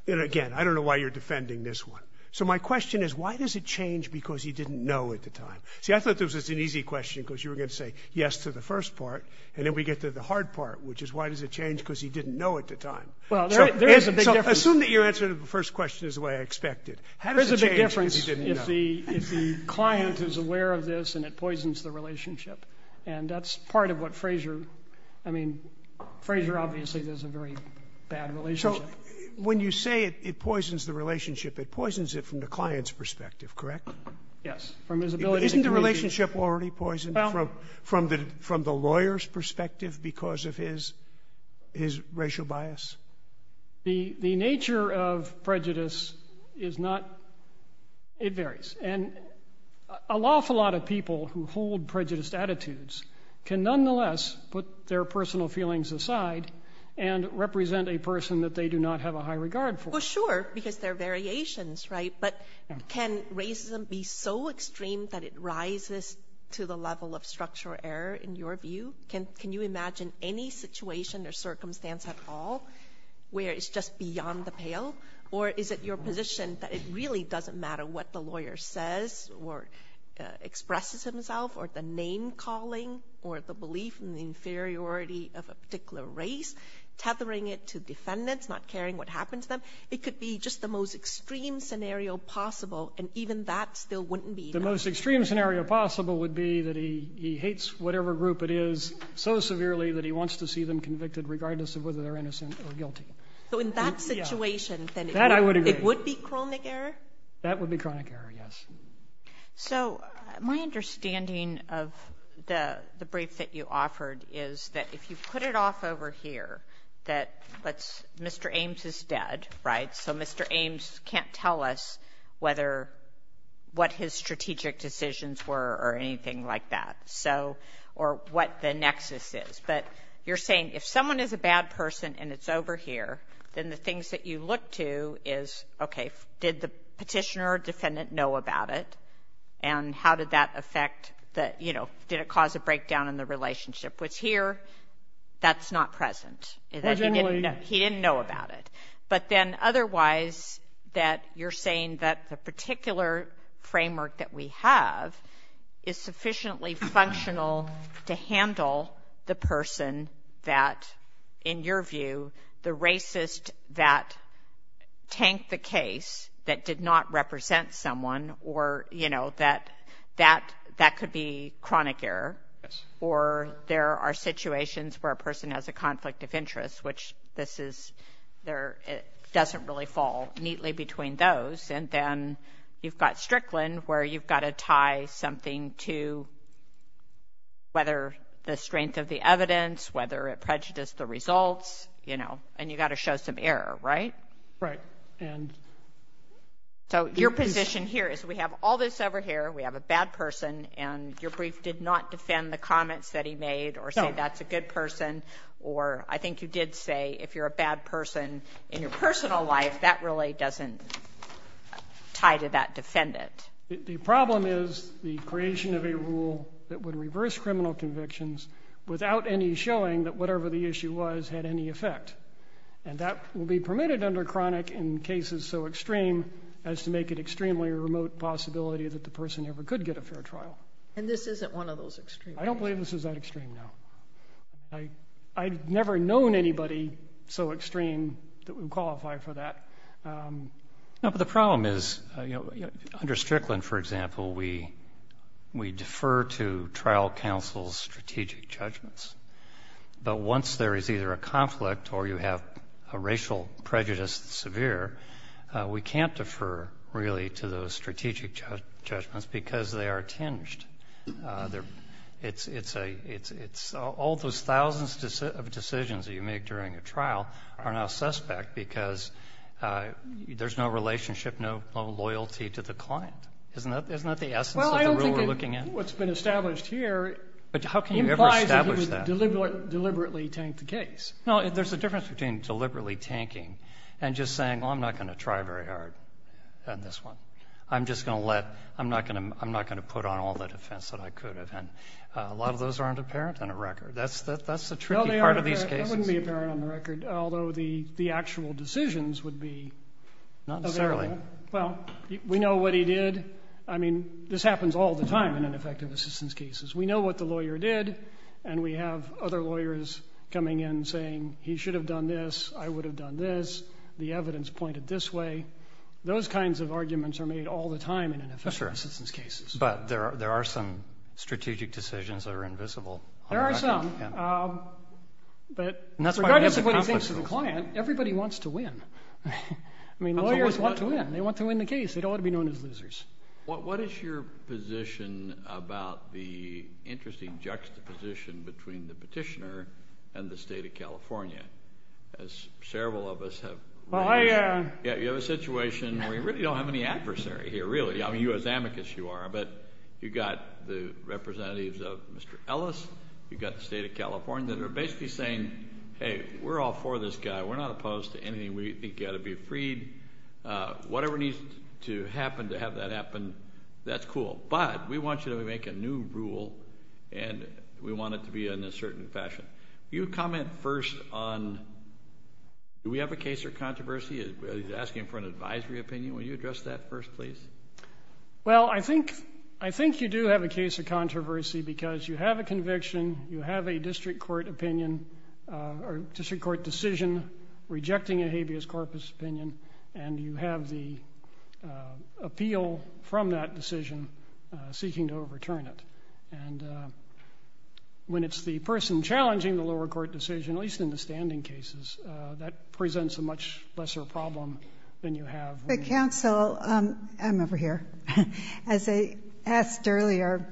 again, I don't know why you're defending this one. So my question is why does it change because he didn't know at the time? See, I thought this was an easy question because you were going to say yes to the first part and then we get to the hard part, which is why does it change because he didn't know at the time? Well, there is a big difference. Assume that your answer to the first question is the way I expected. How does it make a difference if the client is aware of this and it poisons the relationship? And that's part of what Frazier, I mean, when you say it poisons the relationship, it poisons it from the client's perspective, correct? Yes. Isn't the relationship already poisoned from the lawyer's perspective because of his racial bias? The nature of prejudice is not, it varies. And an awful lot of people who hold prejudiced attitudes can nonetheless put their personal feelings aside and represent a they do not have a high regard for. Well, sure, because there are variations, right? But can racism be so extreme that it rises to the level of structural error in your view? Can you imagine any situation or circumstance at all where it's just beyond the pale? Or is it your position that it really doesn't matter what the lawyer says or expresses himself or the name calling or the belief in the inferiority of a particular race, tethering it to defendants, not caring what happened to them? It could be just the most extreme scenario possible. And even that still wouldn't be. The most extreme scenario possible would be that he hates whatever group it is so severely that he wants to see them convicted regardless of whether they're innocent or guilty. So in that situation, it would be chronic error? That would be chronic error, yes. So my understanding of the brief that you offered is that if you put it off over here, that Mr. Ames is dead, right? So Mr. Ames can't tell us what his strategic decisions were or anything like that. Or what the nexus is. But you're saying if someone is a bad person and it's over here, then the things that you look to is, okay, did the petitioner or defendant know about it? And how did that affect that, you know, did it cause a breakdown in the relationship with here? That's not present. He didn't know about it. But then otherwise, that you're saying that the particular framework that we have is sufficiently functional to handle the person that in your view, the racist that tanked the case that did not represent someone or, you know, that that could be chronic error. Or there are situations where a person has a conflict of interest, which this is there, it doesn't really fall neatly between those. And then you've got Strickland where you've got to tie something to whether the strength of the evidence whether it prejudiced the results, you know, and you got to show some error, right? Right. And so your position here is we have all this over here, we have a bad person, and your brief did not defend the comments that he made or say that's a good person. Or I think you did say if you're a bad person in your personal life, that really doesn't tie to that defendant. The problem is the creation of a rule that would reverse criminal convictions without any showing that whatever the issue was had any effect. And that will be permitted under chronic in cases so extreme as to make it extremely remote possibility that the person ever could get a fair trial. And this isn't one of those extremes. I don't believe this is that extreme. Now. I, I've never known anybody so extreme that would qualify for that. No, but the problem is, you know, under Strickland, for example, we, we defer to trial counsel's strategic judgments. But once there is either a conflict or you have a racial prejudice severe, we can't defer really to those strategic judgments because they are tinged. It's, it's a, it's all those thousands of decisions that you make during a trial are now suspect because there's no relationship, no loyalty to the client. Isn't that, isn't that the essence of the rule we're looking at? What's been established here, but how can you deliberately tank the case? No, there's a difference between deliberately tanking and just saying, well, I'm not going to try very hard on this one. I'm just going to let, I'm not going to, I'm not going to put on all the defense that I could have. And a lot of those aren't apparent on a record. That's the, that's a tricky part of these cases. It wouldn't be apparent on the record, although the, the actual decisions would be. Not necessarily. Well, we know what he did. I mean, this happens all the time in ineffective assistance cases. We know what the lawyer did. And we have other lawyers coming in saying he should have done this. I would have done this. The evidence pointed this way. Those kinds of arguments are made all the time in an effective assistance cases. But there are, there are some strategic decisions that are invisible. There are some, but regardless of what he thinks of the client, everybody wants to win. I mean, lawyers want to win. They want to win the case. They don't want to be known as losers. What, what is your position about the interesting juxtaposition between the petitioner and the state of California? As several of us have, you have a situation where you don't have any adversary here, really. I mean, you as amicus you are, but you got the representatives of Mr. Ellis. You've got the state of California that are basically saying, hey, we're all for this guy. We're not opposed to anything. We think you ought to be freed. Whatever needs to happen to have that happen. That's cool. But we want you to make a new rule and we want it to be in a certain fashion. You comment first on, do we have a case of controversy? Is he asking for an advisory opinion? Will you address that first, please? Well, I think, I think you do have a case of conviction. You have a district court opinion or district court decision rejecting a habeas corpus opinion, and you have the appeal from that decision seeking to overturn it. And when it's the person challenging the lower court decision, at least in the standing cases, that presents a much lesser problem than you have. But counsel, I'm over here. As I asked earlier,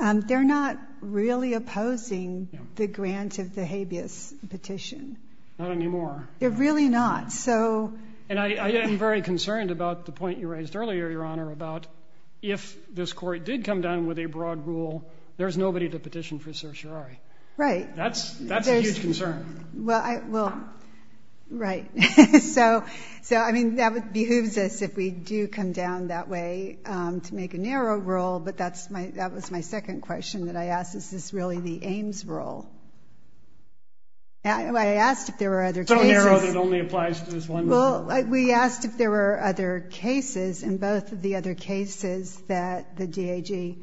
they're not really opposing the grant of the habeas petition. Not anymore. They're really not. So, and I am very concerned about the point you raised earlier, Your Honor, about if this court did come down with a broad rule, there's nobody to petition for certiorari. Right. That's, that's a huge concern. Well, I will. Right. So, so I mean, that would behoove if we do come down that way to make a narrow rule, but that's my, that was my second question that I asked. Is this really the Ames rule? I asked if there were other cases. So narrow that only applies to this one rule, right? Well, we asked if there were other cases, and both of the other cases that the DAG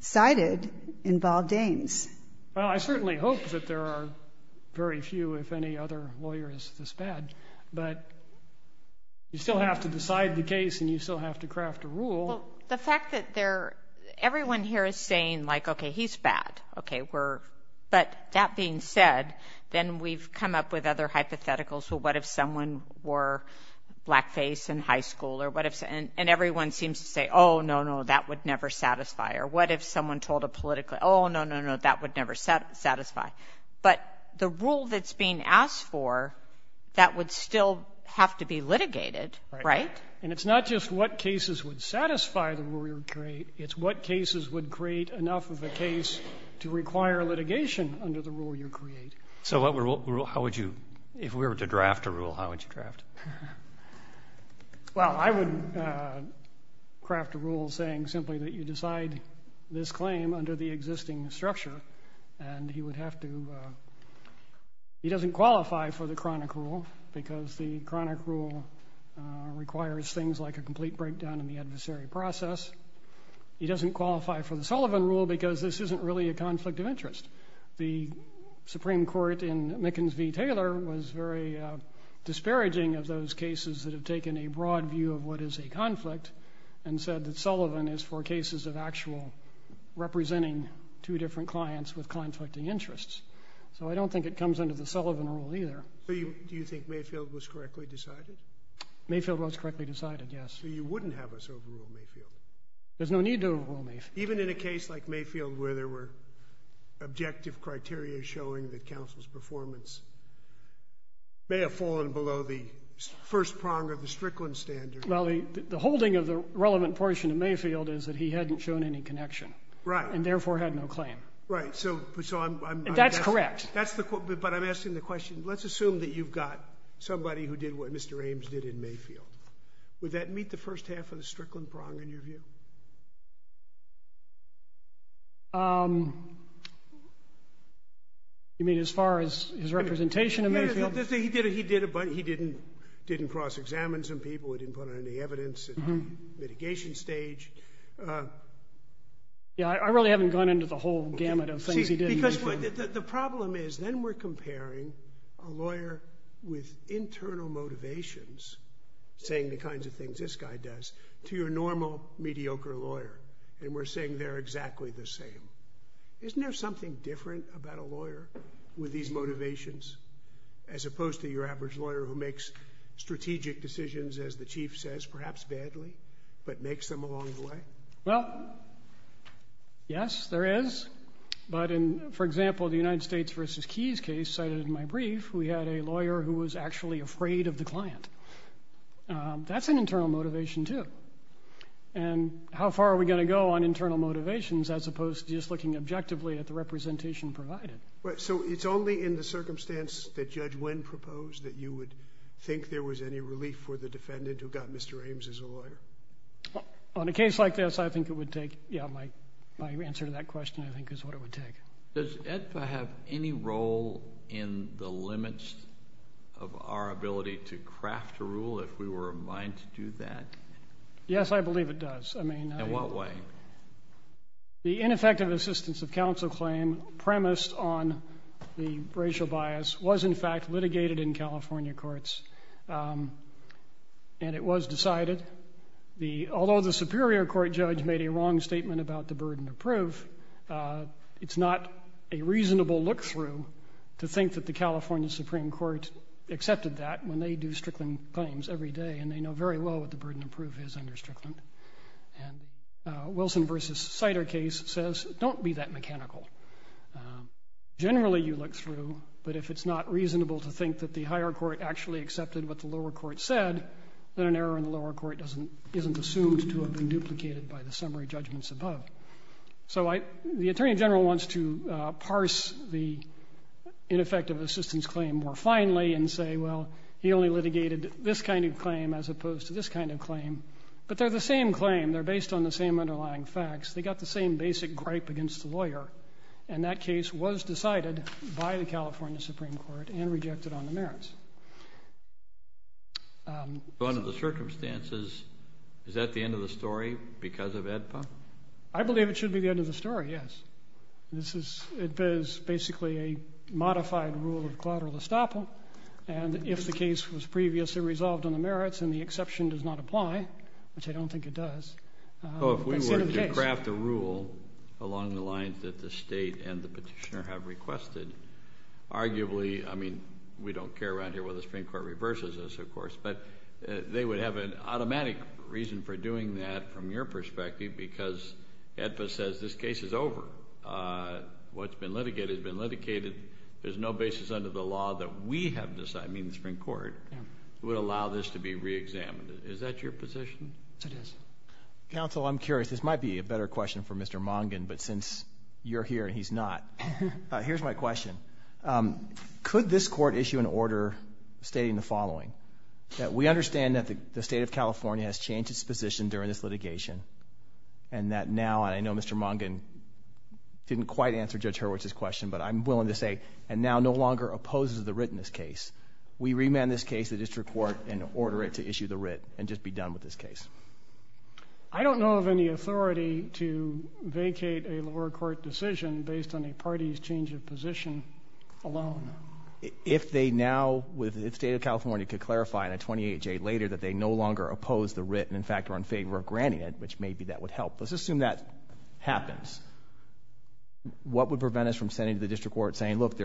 cited involved Ames. Well, I certainly hope that there are very few, if any, other lawyers this bad. But you still have to decide the case, and you still have to craft a rule. The fact that they're, everyone here is saying like, okay, he's bad. Okay, we're, but that being said, then we've come up with other hypotheticals. So what if someone were blackface in high school, or what if, and everyone seems to say, oh, no, no, that would never satisfy. Or what if someone told a political, oh, no, no, no, that would never satisfy. But the rule that's being asked for, that would still have to be litigated, right? And it's not just what cases would satisfy the rule you create, it's what cases would create enough of a case to require litigation under the rule you create. So what would rule, how would you, if we were to draft a rule, how would you draft? Well, I would craft a rule saying simply that you this claim under the existing structure, and he would have to, he doesn't qualify for the chronic rule, because the chronic rule requires things like a complete breakdown in the adversary process. He doesn't qualify for the Sullivan rule, because this isn't really a conflict of interest. The Supreme Court in Mickens v. Taylor was very disparaging of those cases that have taken a view of what is a conflict and said that Sullivan is for cases of actual representing two different clients with conflicting interests. So I don't think it comes under the Sullivan rule either. So you, do you think Mayfield was correctly decided? Mayfield was correctly decided, yes. So you wouldn't have us overrule Mayfield? There's no need to overrule Mayfield. Even in a case like Mayfield, where there were objective criteria showing that counsel's performance may have fallen below the first prong of the Strickland standard. Well, the holding of the relevant portion of Mayfield is that he hadn't shown any connection. Right. And therefore had no claim. Right, so I'm... That's correct. That's the, but I'm asking the question, let's assume that you've got somebody who did what Mr. Ames did in Mayfield. Would that meet the first half of the Strickland prong in your view? Um, you mean as far as his representation in Mayfield? He did, he did a bunch, he didn't, didn't cross-examine some people, he didn't put any evidence in the mitigation stage. Yeah, I really haven't gone into the whole gamut of things he did in Mayfield. The problem is, then we're comparing a lawyer with internal motivations, saying the kinds of things this guy does, to your normal mediocre lawyer, and we're saying they're exactly the same. Isn't there something different about a lawyer with these motivations, as opposed to your average lawyer who makes strategic decisions, as the chief says, perhaps badly, but makes them along the way? Well, yes, there is. But in, for example, the United States versus Keyes case cited in my brief, we had a lawyer who was actually afraid of the client. That's an internal motivation too. And how far are we going to go on internal motivations, as opposed to just looking objectively at the representation provided? So it's only in the circumstance that Judge Wynn proposed that you would think there was any relief for the defendant who got Mr. Ames as a lawyer? On a case like this, I think it would take, yeah, my answer to that question, I think is what it would take. Does EDSA have any role in the limits of our ability to craft a rule, if we were in line to do that? Yes, I believe it does. I mean... In what way? The ineffective assistance of counsel claim, premised on the racial bias, was in fact litigated in California courts. And it was decided, although the Superior Court judge made a long statement about the burden of proof, it's not a reasonable look-through to think that the California Supreme Court accepted that when they do strickland claims every day, and they know very well what the burden of proof is under strickland. And Wilson v. Sider case says, don't be that mechanical. Generally, you look through, but if it's not reasonable to think that the higher court actually accepted what the lower court said, then an error in the lower court isn't assumed to have been duplicated by the summary judgments above. So the Attorney General wants to parse the ineffective assistance claim more finely and say, well, he only litigated this kind of claim as opposed to this kind of claim. But they're the same claim. They're based on the same underlying facts. They got the same basic gripe against the lawyer. And that case was decided by the California Supreme Court and rejected on the merits. I believe it should be the end of the story, yes. It is basically a modified rule of collateral estoppel. And if the case was previously resolved on the merits and the exception does not apply, which I don't think it does, it's the end of the case. Oh, if we were to craft a rule along the lines that the state and the petitioner have requested, arguably, I mean, we don't care right here whether the Supreme Court reverses this, of course, but they would have an automatic reason for doing that from your perspective because AEDPA says this case is over. What's been litigated has been litigated. There's no basis under the law that we have decided, I mean, the Supreme Court would allow this to be reexamined. Is that your position? Counsel, I'm curious. This might be a better question for Mr. Mongan, but since you're here and he's not, here's my question. Could this court issue an order stating the following? We understand that the state of California has changed its position during this litigation and that now, I know Mr. Mongan didn't quite answer Judge Hurwitz's question, but I'm willing to say, and now no longer opposes the writ in this case, we remand this case to the district court and order it to issue the writ and just be done with this case. I don't know of any authority to vacate a lower court decision based on a party's change of position alone. If they now, with the state of California, could clarify in a 28-J later that they no longer oppose the writ and in fact, are in favor of granting it, which maybe that would help. Let's assume that happens. What would prevent us from sending to the district court saying, look,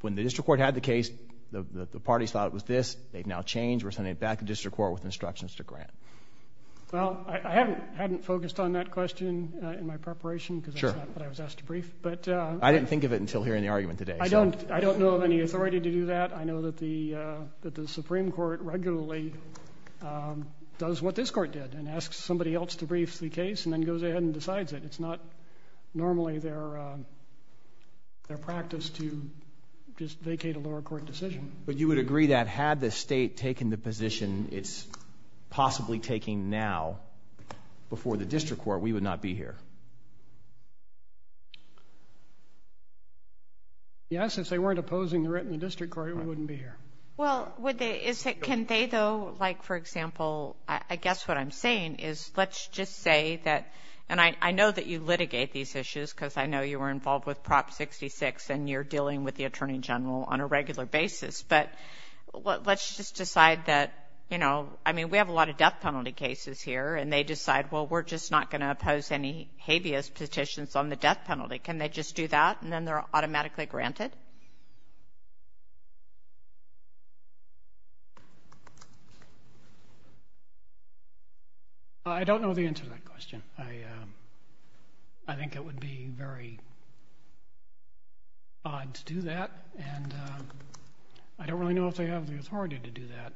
when the district court had the case, the party thought it was this. They've now changed. We're sending it back to district court with instructions to grant. Well, I hadn't focused on that question in my preparation because that's not what I was asked to brief, but- I didn't think of it until hearing the argument today. I don't know of any authority to do that. I know that the Supreme Court regularly does what this court did and asks somebody else to brief the case and then goes ahead and decides it. It's not normally their practice to just vacate a lower court decision. But you would agree that had the state taken the position it's possibly taking now before the district court, we would not be here? Yes, if they weren't opposing the writ in the district court, we wouldn't be here. Well, can they though, like for example, I guess what I'm saying is let's just say that, and I know that you litigate these issues because I know you were involved with Prop 66 and you're dealing with the Attorney General on a regular basis, but let's just decide that, you know, I mean, we have a lot of death penalty cases here and they decide, well, we're just not going to oppose any habeas petitions on the death penalty. Can they just do that and then they're automatically granted? I don't know the answer to that question. I think it would be very odd to do that and I don't really know if they have the authority to do that.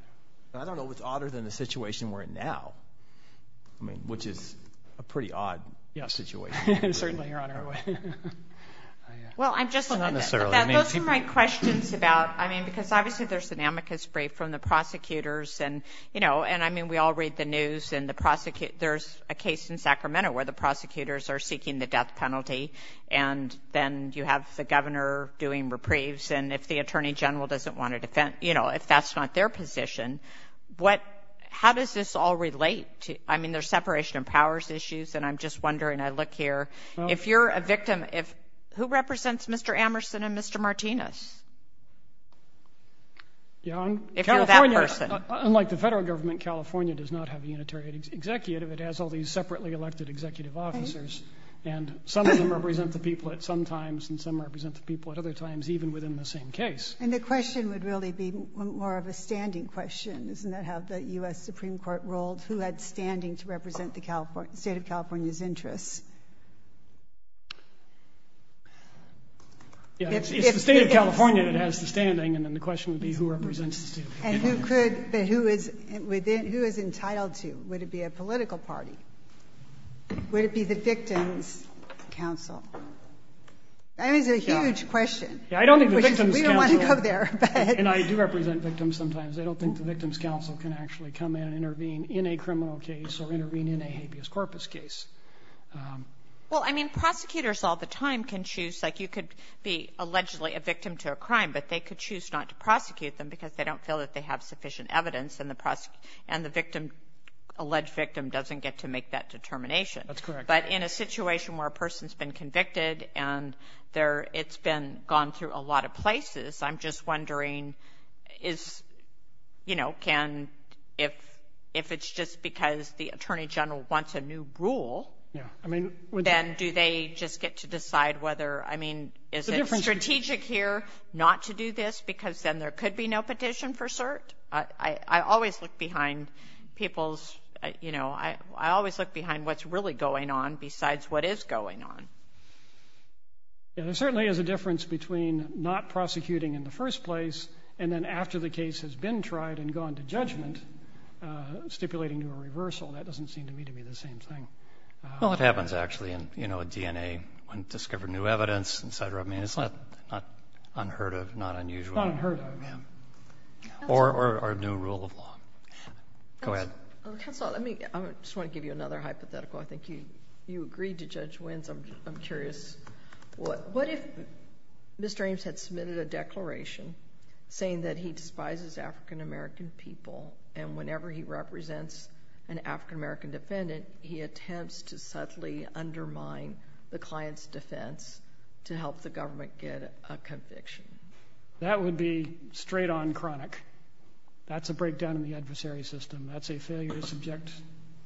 I don't know what's odder than the situation we're in now. I mean, which is a pretty odd situation. Certainly, Your Honor. Well, those are my questions about, I mean, because obviously there's an amicus brief from the prosecutors and, you know, and I mean, we all read the news and there's a case in Sacramento where the prosecutors are seeking the death penalty and then you have the governor doing reprieves and if the Attorney General doesn't want to defend, you know, if that's not their position, how does this all relate? I mean, there's separation of powers issues and I'm just wondering, I look here, if you're a victim, who represents Mr. Amerson and Mr. Martinez? Unlike the federal government, California does not have a unitary executive. It has all these separately elected executive officers and some of them represent the people at some times and some represent the people at other times, even within the same case. And the question would really be more of a standing question, doesn't that have the U.S. Supreme Court role, who had standing to represent the State of California's interest? Yeah, if the State of California has the standing, then the question would be who represents the State of California. And who could, who is, who is entitled to? Would it be a political party? Would it be the Victims' Council? That is a huge question. Yeah, I don't think the Victims' Council, and I do represent victims sometimes, I don't think the Victims' Council can actually come in and intervene in a criminal case or intervene in a habeas corpus case. Well, I mean, prosecutors all the time can choose, like you could be allegedly a victim to a crime, but they could choose not to prosecute them because they don't feel that they have sufficient evidence in the process and the victim, alleged victim doesn't get to make that determination. That's correct. But in a situation where a person's been convicted and there, it's been gone through a lot of places, I'm just wondering, is, you know, can, if, if it's just because the Attorney General wants a new rule. Yeah, I mean. Then do they just get to decide whether, I mean, is it strategic here not to do this because then there could be no petition for cert? I always look behind people's, you know, I always look behind what's really going on besides what is going on. And there certainly is a difference between not prosecuting in the first place and then after the case has been tried and gone to judgment, stipulating a reversal, that doesn't seem to me to be the same thing. Well, it happens actually in, you know, DNA, undiscovered new evidence, et cetera. I mean, it's not unheard of, not unusual. Not unheard of, yeah. Or, or a new rule of law. Go ahead. Okay, so let me, I just want to give you another hypothetical. I think you, you agreed to Judge Wins. I'm just, I'm curious, what, what if Mr. Ames had submitted a declaration saying that he despises African American people and whenever he represents an African American defendant, he attempts to subtly undermine the client's defense to help the government get a conviction? That would be straight on chronic. That's a breakdown in the adversary system. That's a failure to subject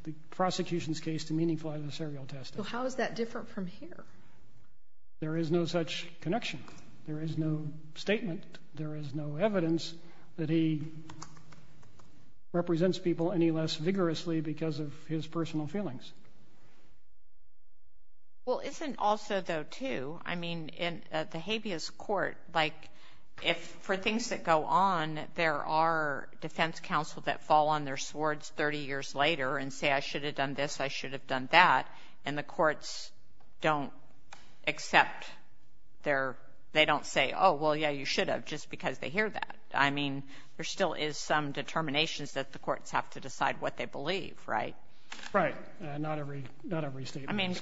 the prosecution's case to meaningful adversarial testing. So how is that different from here? There is no such connection. There is no statement. There is no evidence that he represents people any less vigorously because of his personal feelings. Well, isn't also though too, I mean, in the habeas court, like if for things that go on, there are defense counsel that fall on their swords 30 years later and say, I should have done this. I should have done that. And the courts don't accept their, they don't say, oh, well, yeah, you should have just because they hear that. I mean, there still is some determinations that the courts have to decide what they believe, right? Right. Not every statement. I mean,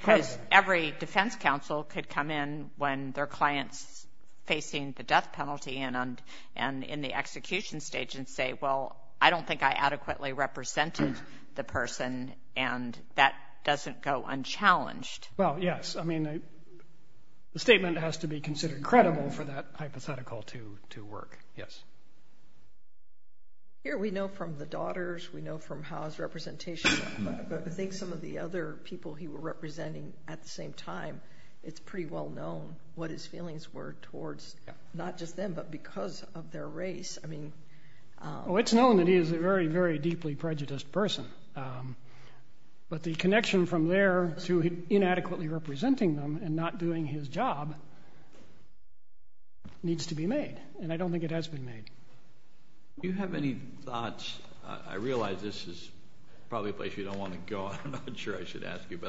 every defense counsel could come in when their clients facing the death penalty and in the execution stage and say, well, I don't think I adequately represented the person and that doesn't go unchallenged. Well, yes. I mean, the statement has to be considered credible for that hypothetical to work. Yes. Here we know from the daughters, we know from house representation, but I think some of the other people he was representing at the same time, it's pretty well known what his feelings were towards, not just them, but because of their race. I mean, it's known that he is a very, very deeply prejudiced person, but the connection from there through inadequately representing them and not doing his job needs to be made. And I don't think it has to be made. Do you have any thoughts? I realize this is probably a place you don't want to go. I'm not sure I should ask you,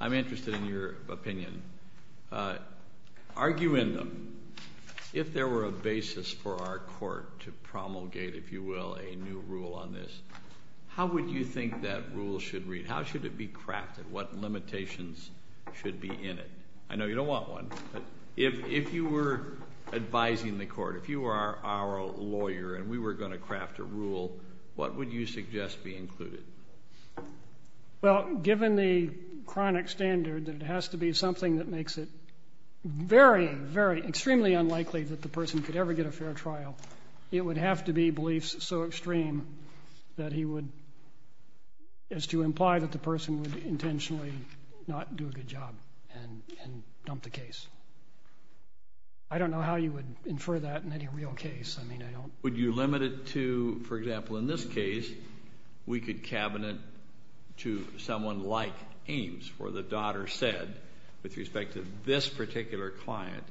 I'm interested in your opinion. Argue in them. If there were a basis for our court to promulgate, if you will, a new rule on this, how would you think that rule should read? How should it be crafted? What limitations should be in it? I know you don't want one, but if you were advising the court, if you are our lawyer and we were going to craft a rule, what would you suggest be included? Well, given the chronic standards, it has to be something that makes it very, very extremely unlikely that the person could ever get a fair trial. It would have to be beliefs so extreme that he would, as to imply that the person would intentionally not do a good job and dump the case. I don't know how you would infer that in any real case. I mean, I don't. Would you limit it to, for example, in this case, we could cabinet to someone like Ames, for the daughter said, with respect to this particular client,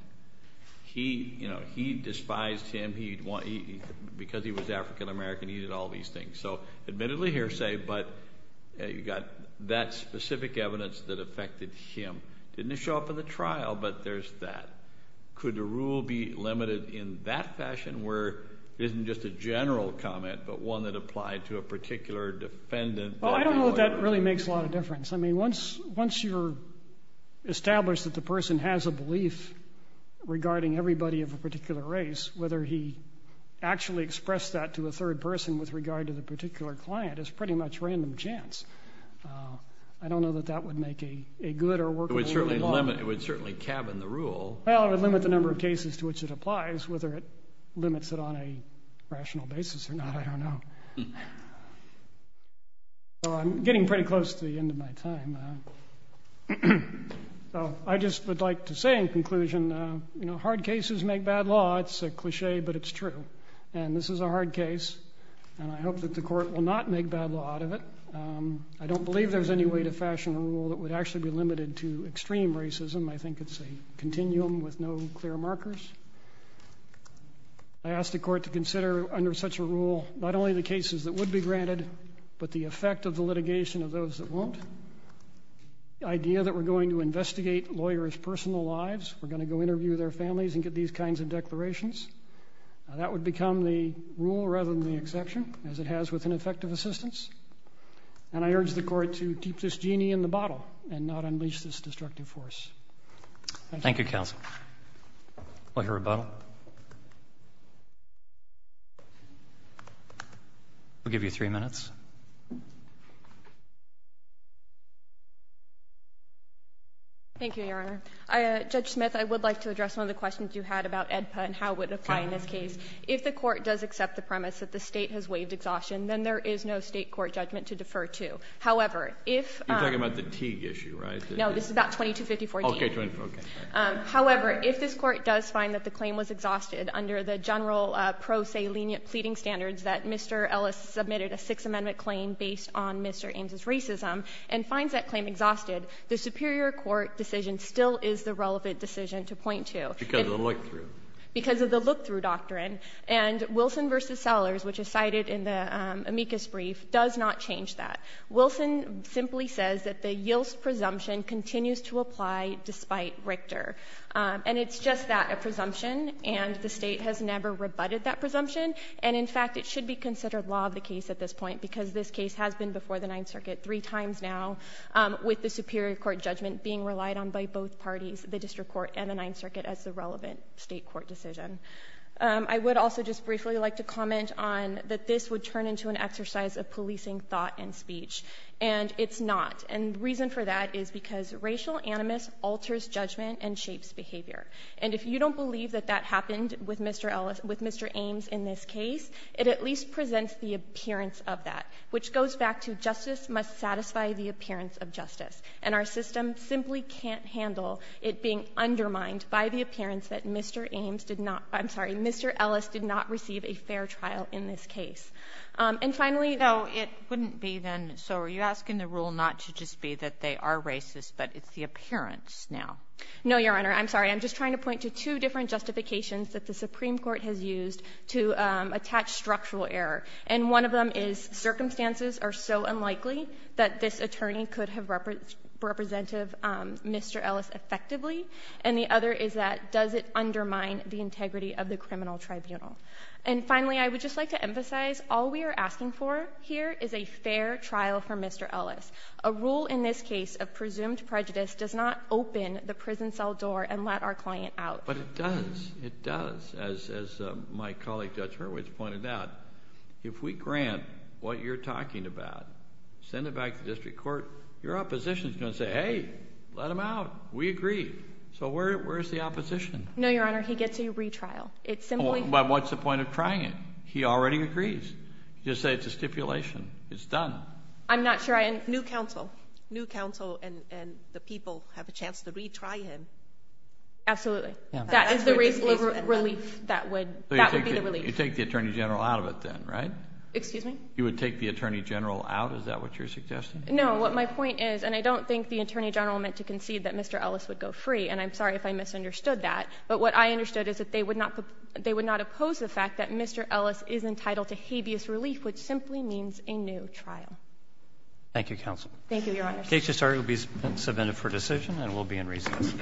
he despised him because he was African-American. He did all these things. So admittedly hearsay, but you got that specific evidence that affected him. Didn't show up in the trial, but there's that. Could the rule be limited in that fashion where it isn't just a general comment, but one that applied to a particular defendant? Oh, I don't know if that really makes a lot of difference. I mean, once you're established that the person has a belief regarding everybody of a particular race, whether he actually expressed that to a third person with regard to the particular client is pretty much random chance. I don't know that that would make a good or work. It would certainly cabin the rule. Well, it would limit the number of cases to which it applies, whether it limits it on a rational basis or not, I don't know. So I'm getting pretty close to the end of my time. So I just would like to say in conclusion, hard cases make bad law. It's a cliche, but it's true. And this is a hard case. And I hope that the court will not make bad law out of it. I don't believe there's any way to fashion a rule that would actually be limited to extreme racism. I think it's a continuum with no clear markers. I ask the court to consider under such a rule, not only the cases that would be granted, but the effect of the litigation of those that won't. The idea that we're going to investigate lawyers' personal lives. We're going to go interview their families and get these kinds of declarations. That would become the rule rather than the exception, as it has with ineffective assistance. And I urge the court to keep this genie in the bottle and not unleash this destructive force. Thank you, counsel. I'll hear a vote. I'll give you three minutes. Thank you, Your Honor. Judge Smith, I would like to address some of the questions you had about EDPA and how it would apply in this case. If the court does accept the premise that the state has waived exhaustion, then there is no state court judgment to defer to. However, if- You're talking about the Teague issue, right? No, this is about 2254- Okay, go ahead. However, if this court does find that the claim was exhausted under the general pro se lenient pleading standards that Mr. Ellis submitted a Sixth Amendment claim based on Mr. Ames' racism and finds that claim exhausted, the superior court decision still is the relevant decision to point to. Because of the look-through. Because of the look-through doctrine. And Wilson v. Sellers, which is cited in the amicus brief, does not change that. Wilson simply says that the yields presumption continues to apply despite Richter. And it's just that, a presumption. And the state has never rebutted that presumption. And in fact, it should be considered law of the case at this point because this case has been before the Ninth Circuit three times now with the superior court judgment being relied on by both parties, the district court and the Ninth Circuit as the relevant state court decision. I would also just briefly like to comment on that this would turn into an exercise of policing thought and speech. And it's not. And the reason for that is because racial animus alters judgment and shapes behavior. And if you don't believe that that happened with Mr. Ames in this case, it at least presents the appearance of that. Which goes back to justice must satisfy the appearance of justice. And our system simply can't handle it being undermined by the appearance that Mr. Ames did not, I'm sorry, Mr. Ellis did not receive a fair trial in this case. And finally, though, it wouldn't be then, so are you asking the rule not to just be that they are racist, but it's the appearance now? No, Your Honor, I'm sorry. I'm just trying to point to two different justifications that the Supreme Court has used to attach structural error. And one of them is circumstances are so unlikely that this attorney could have represented Mr. Ellis effectively. And the other is that does it undermine the integrity of the criminal tribunal? And finally, I would just like to emphasize all we are asking for here is a fair trial for Mr. Ellis. A rule in this case of presumed prejudice does not open the prison cell door and let our client out. But it does, it does. As my colleague Judge Hurwitz pointed out, if we grant what you're talking about, send it back to district court, your opposition's gonna say, hey, let him out, we agree. So where's the opposition? No, Your Honor, he gets a retrial. It's simply- But what's the point of trying it? He already agrees. Just say it's a stipulation. It's done. I'm not sure I- New counsel. New counsel and the people have a chance to retry him. Absolutely. That is the reasonable relief that would be the relief. You'd take the Attorney General out of it then, right? Excuse me? You would take the Attorney General out? Is that what you're suggesting? No, what my point is, and I don't think the Attorney General meant to concede that Mr. Ellis would go free. And I'm sorry if I misunderstood that. But what I understood is that they would not oppose the fact that Mr. Ellis is entitled to habeas relief, which simply means a new trial. Thank you, counsel. Thank you, Your Honor. The case is submitted for decision and will be in recess.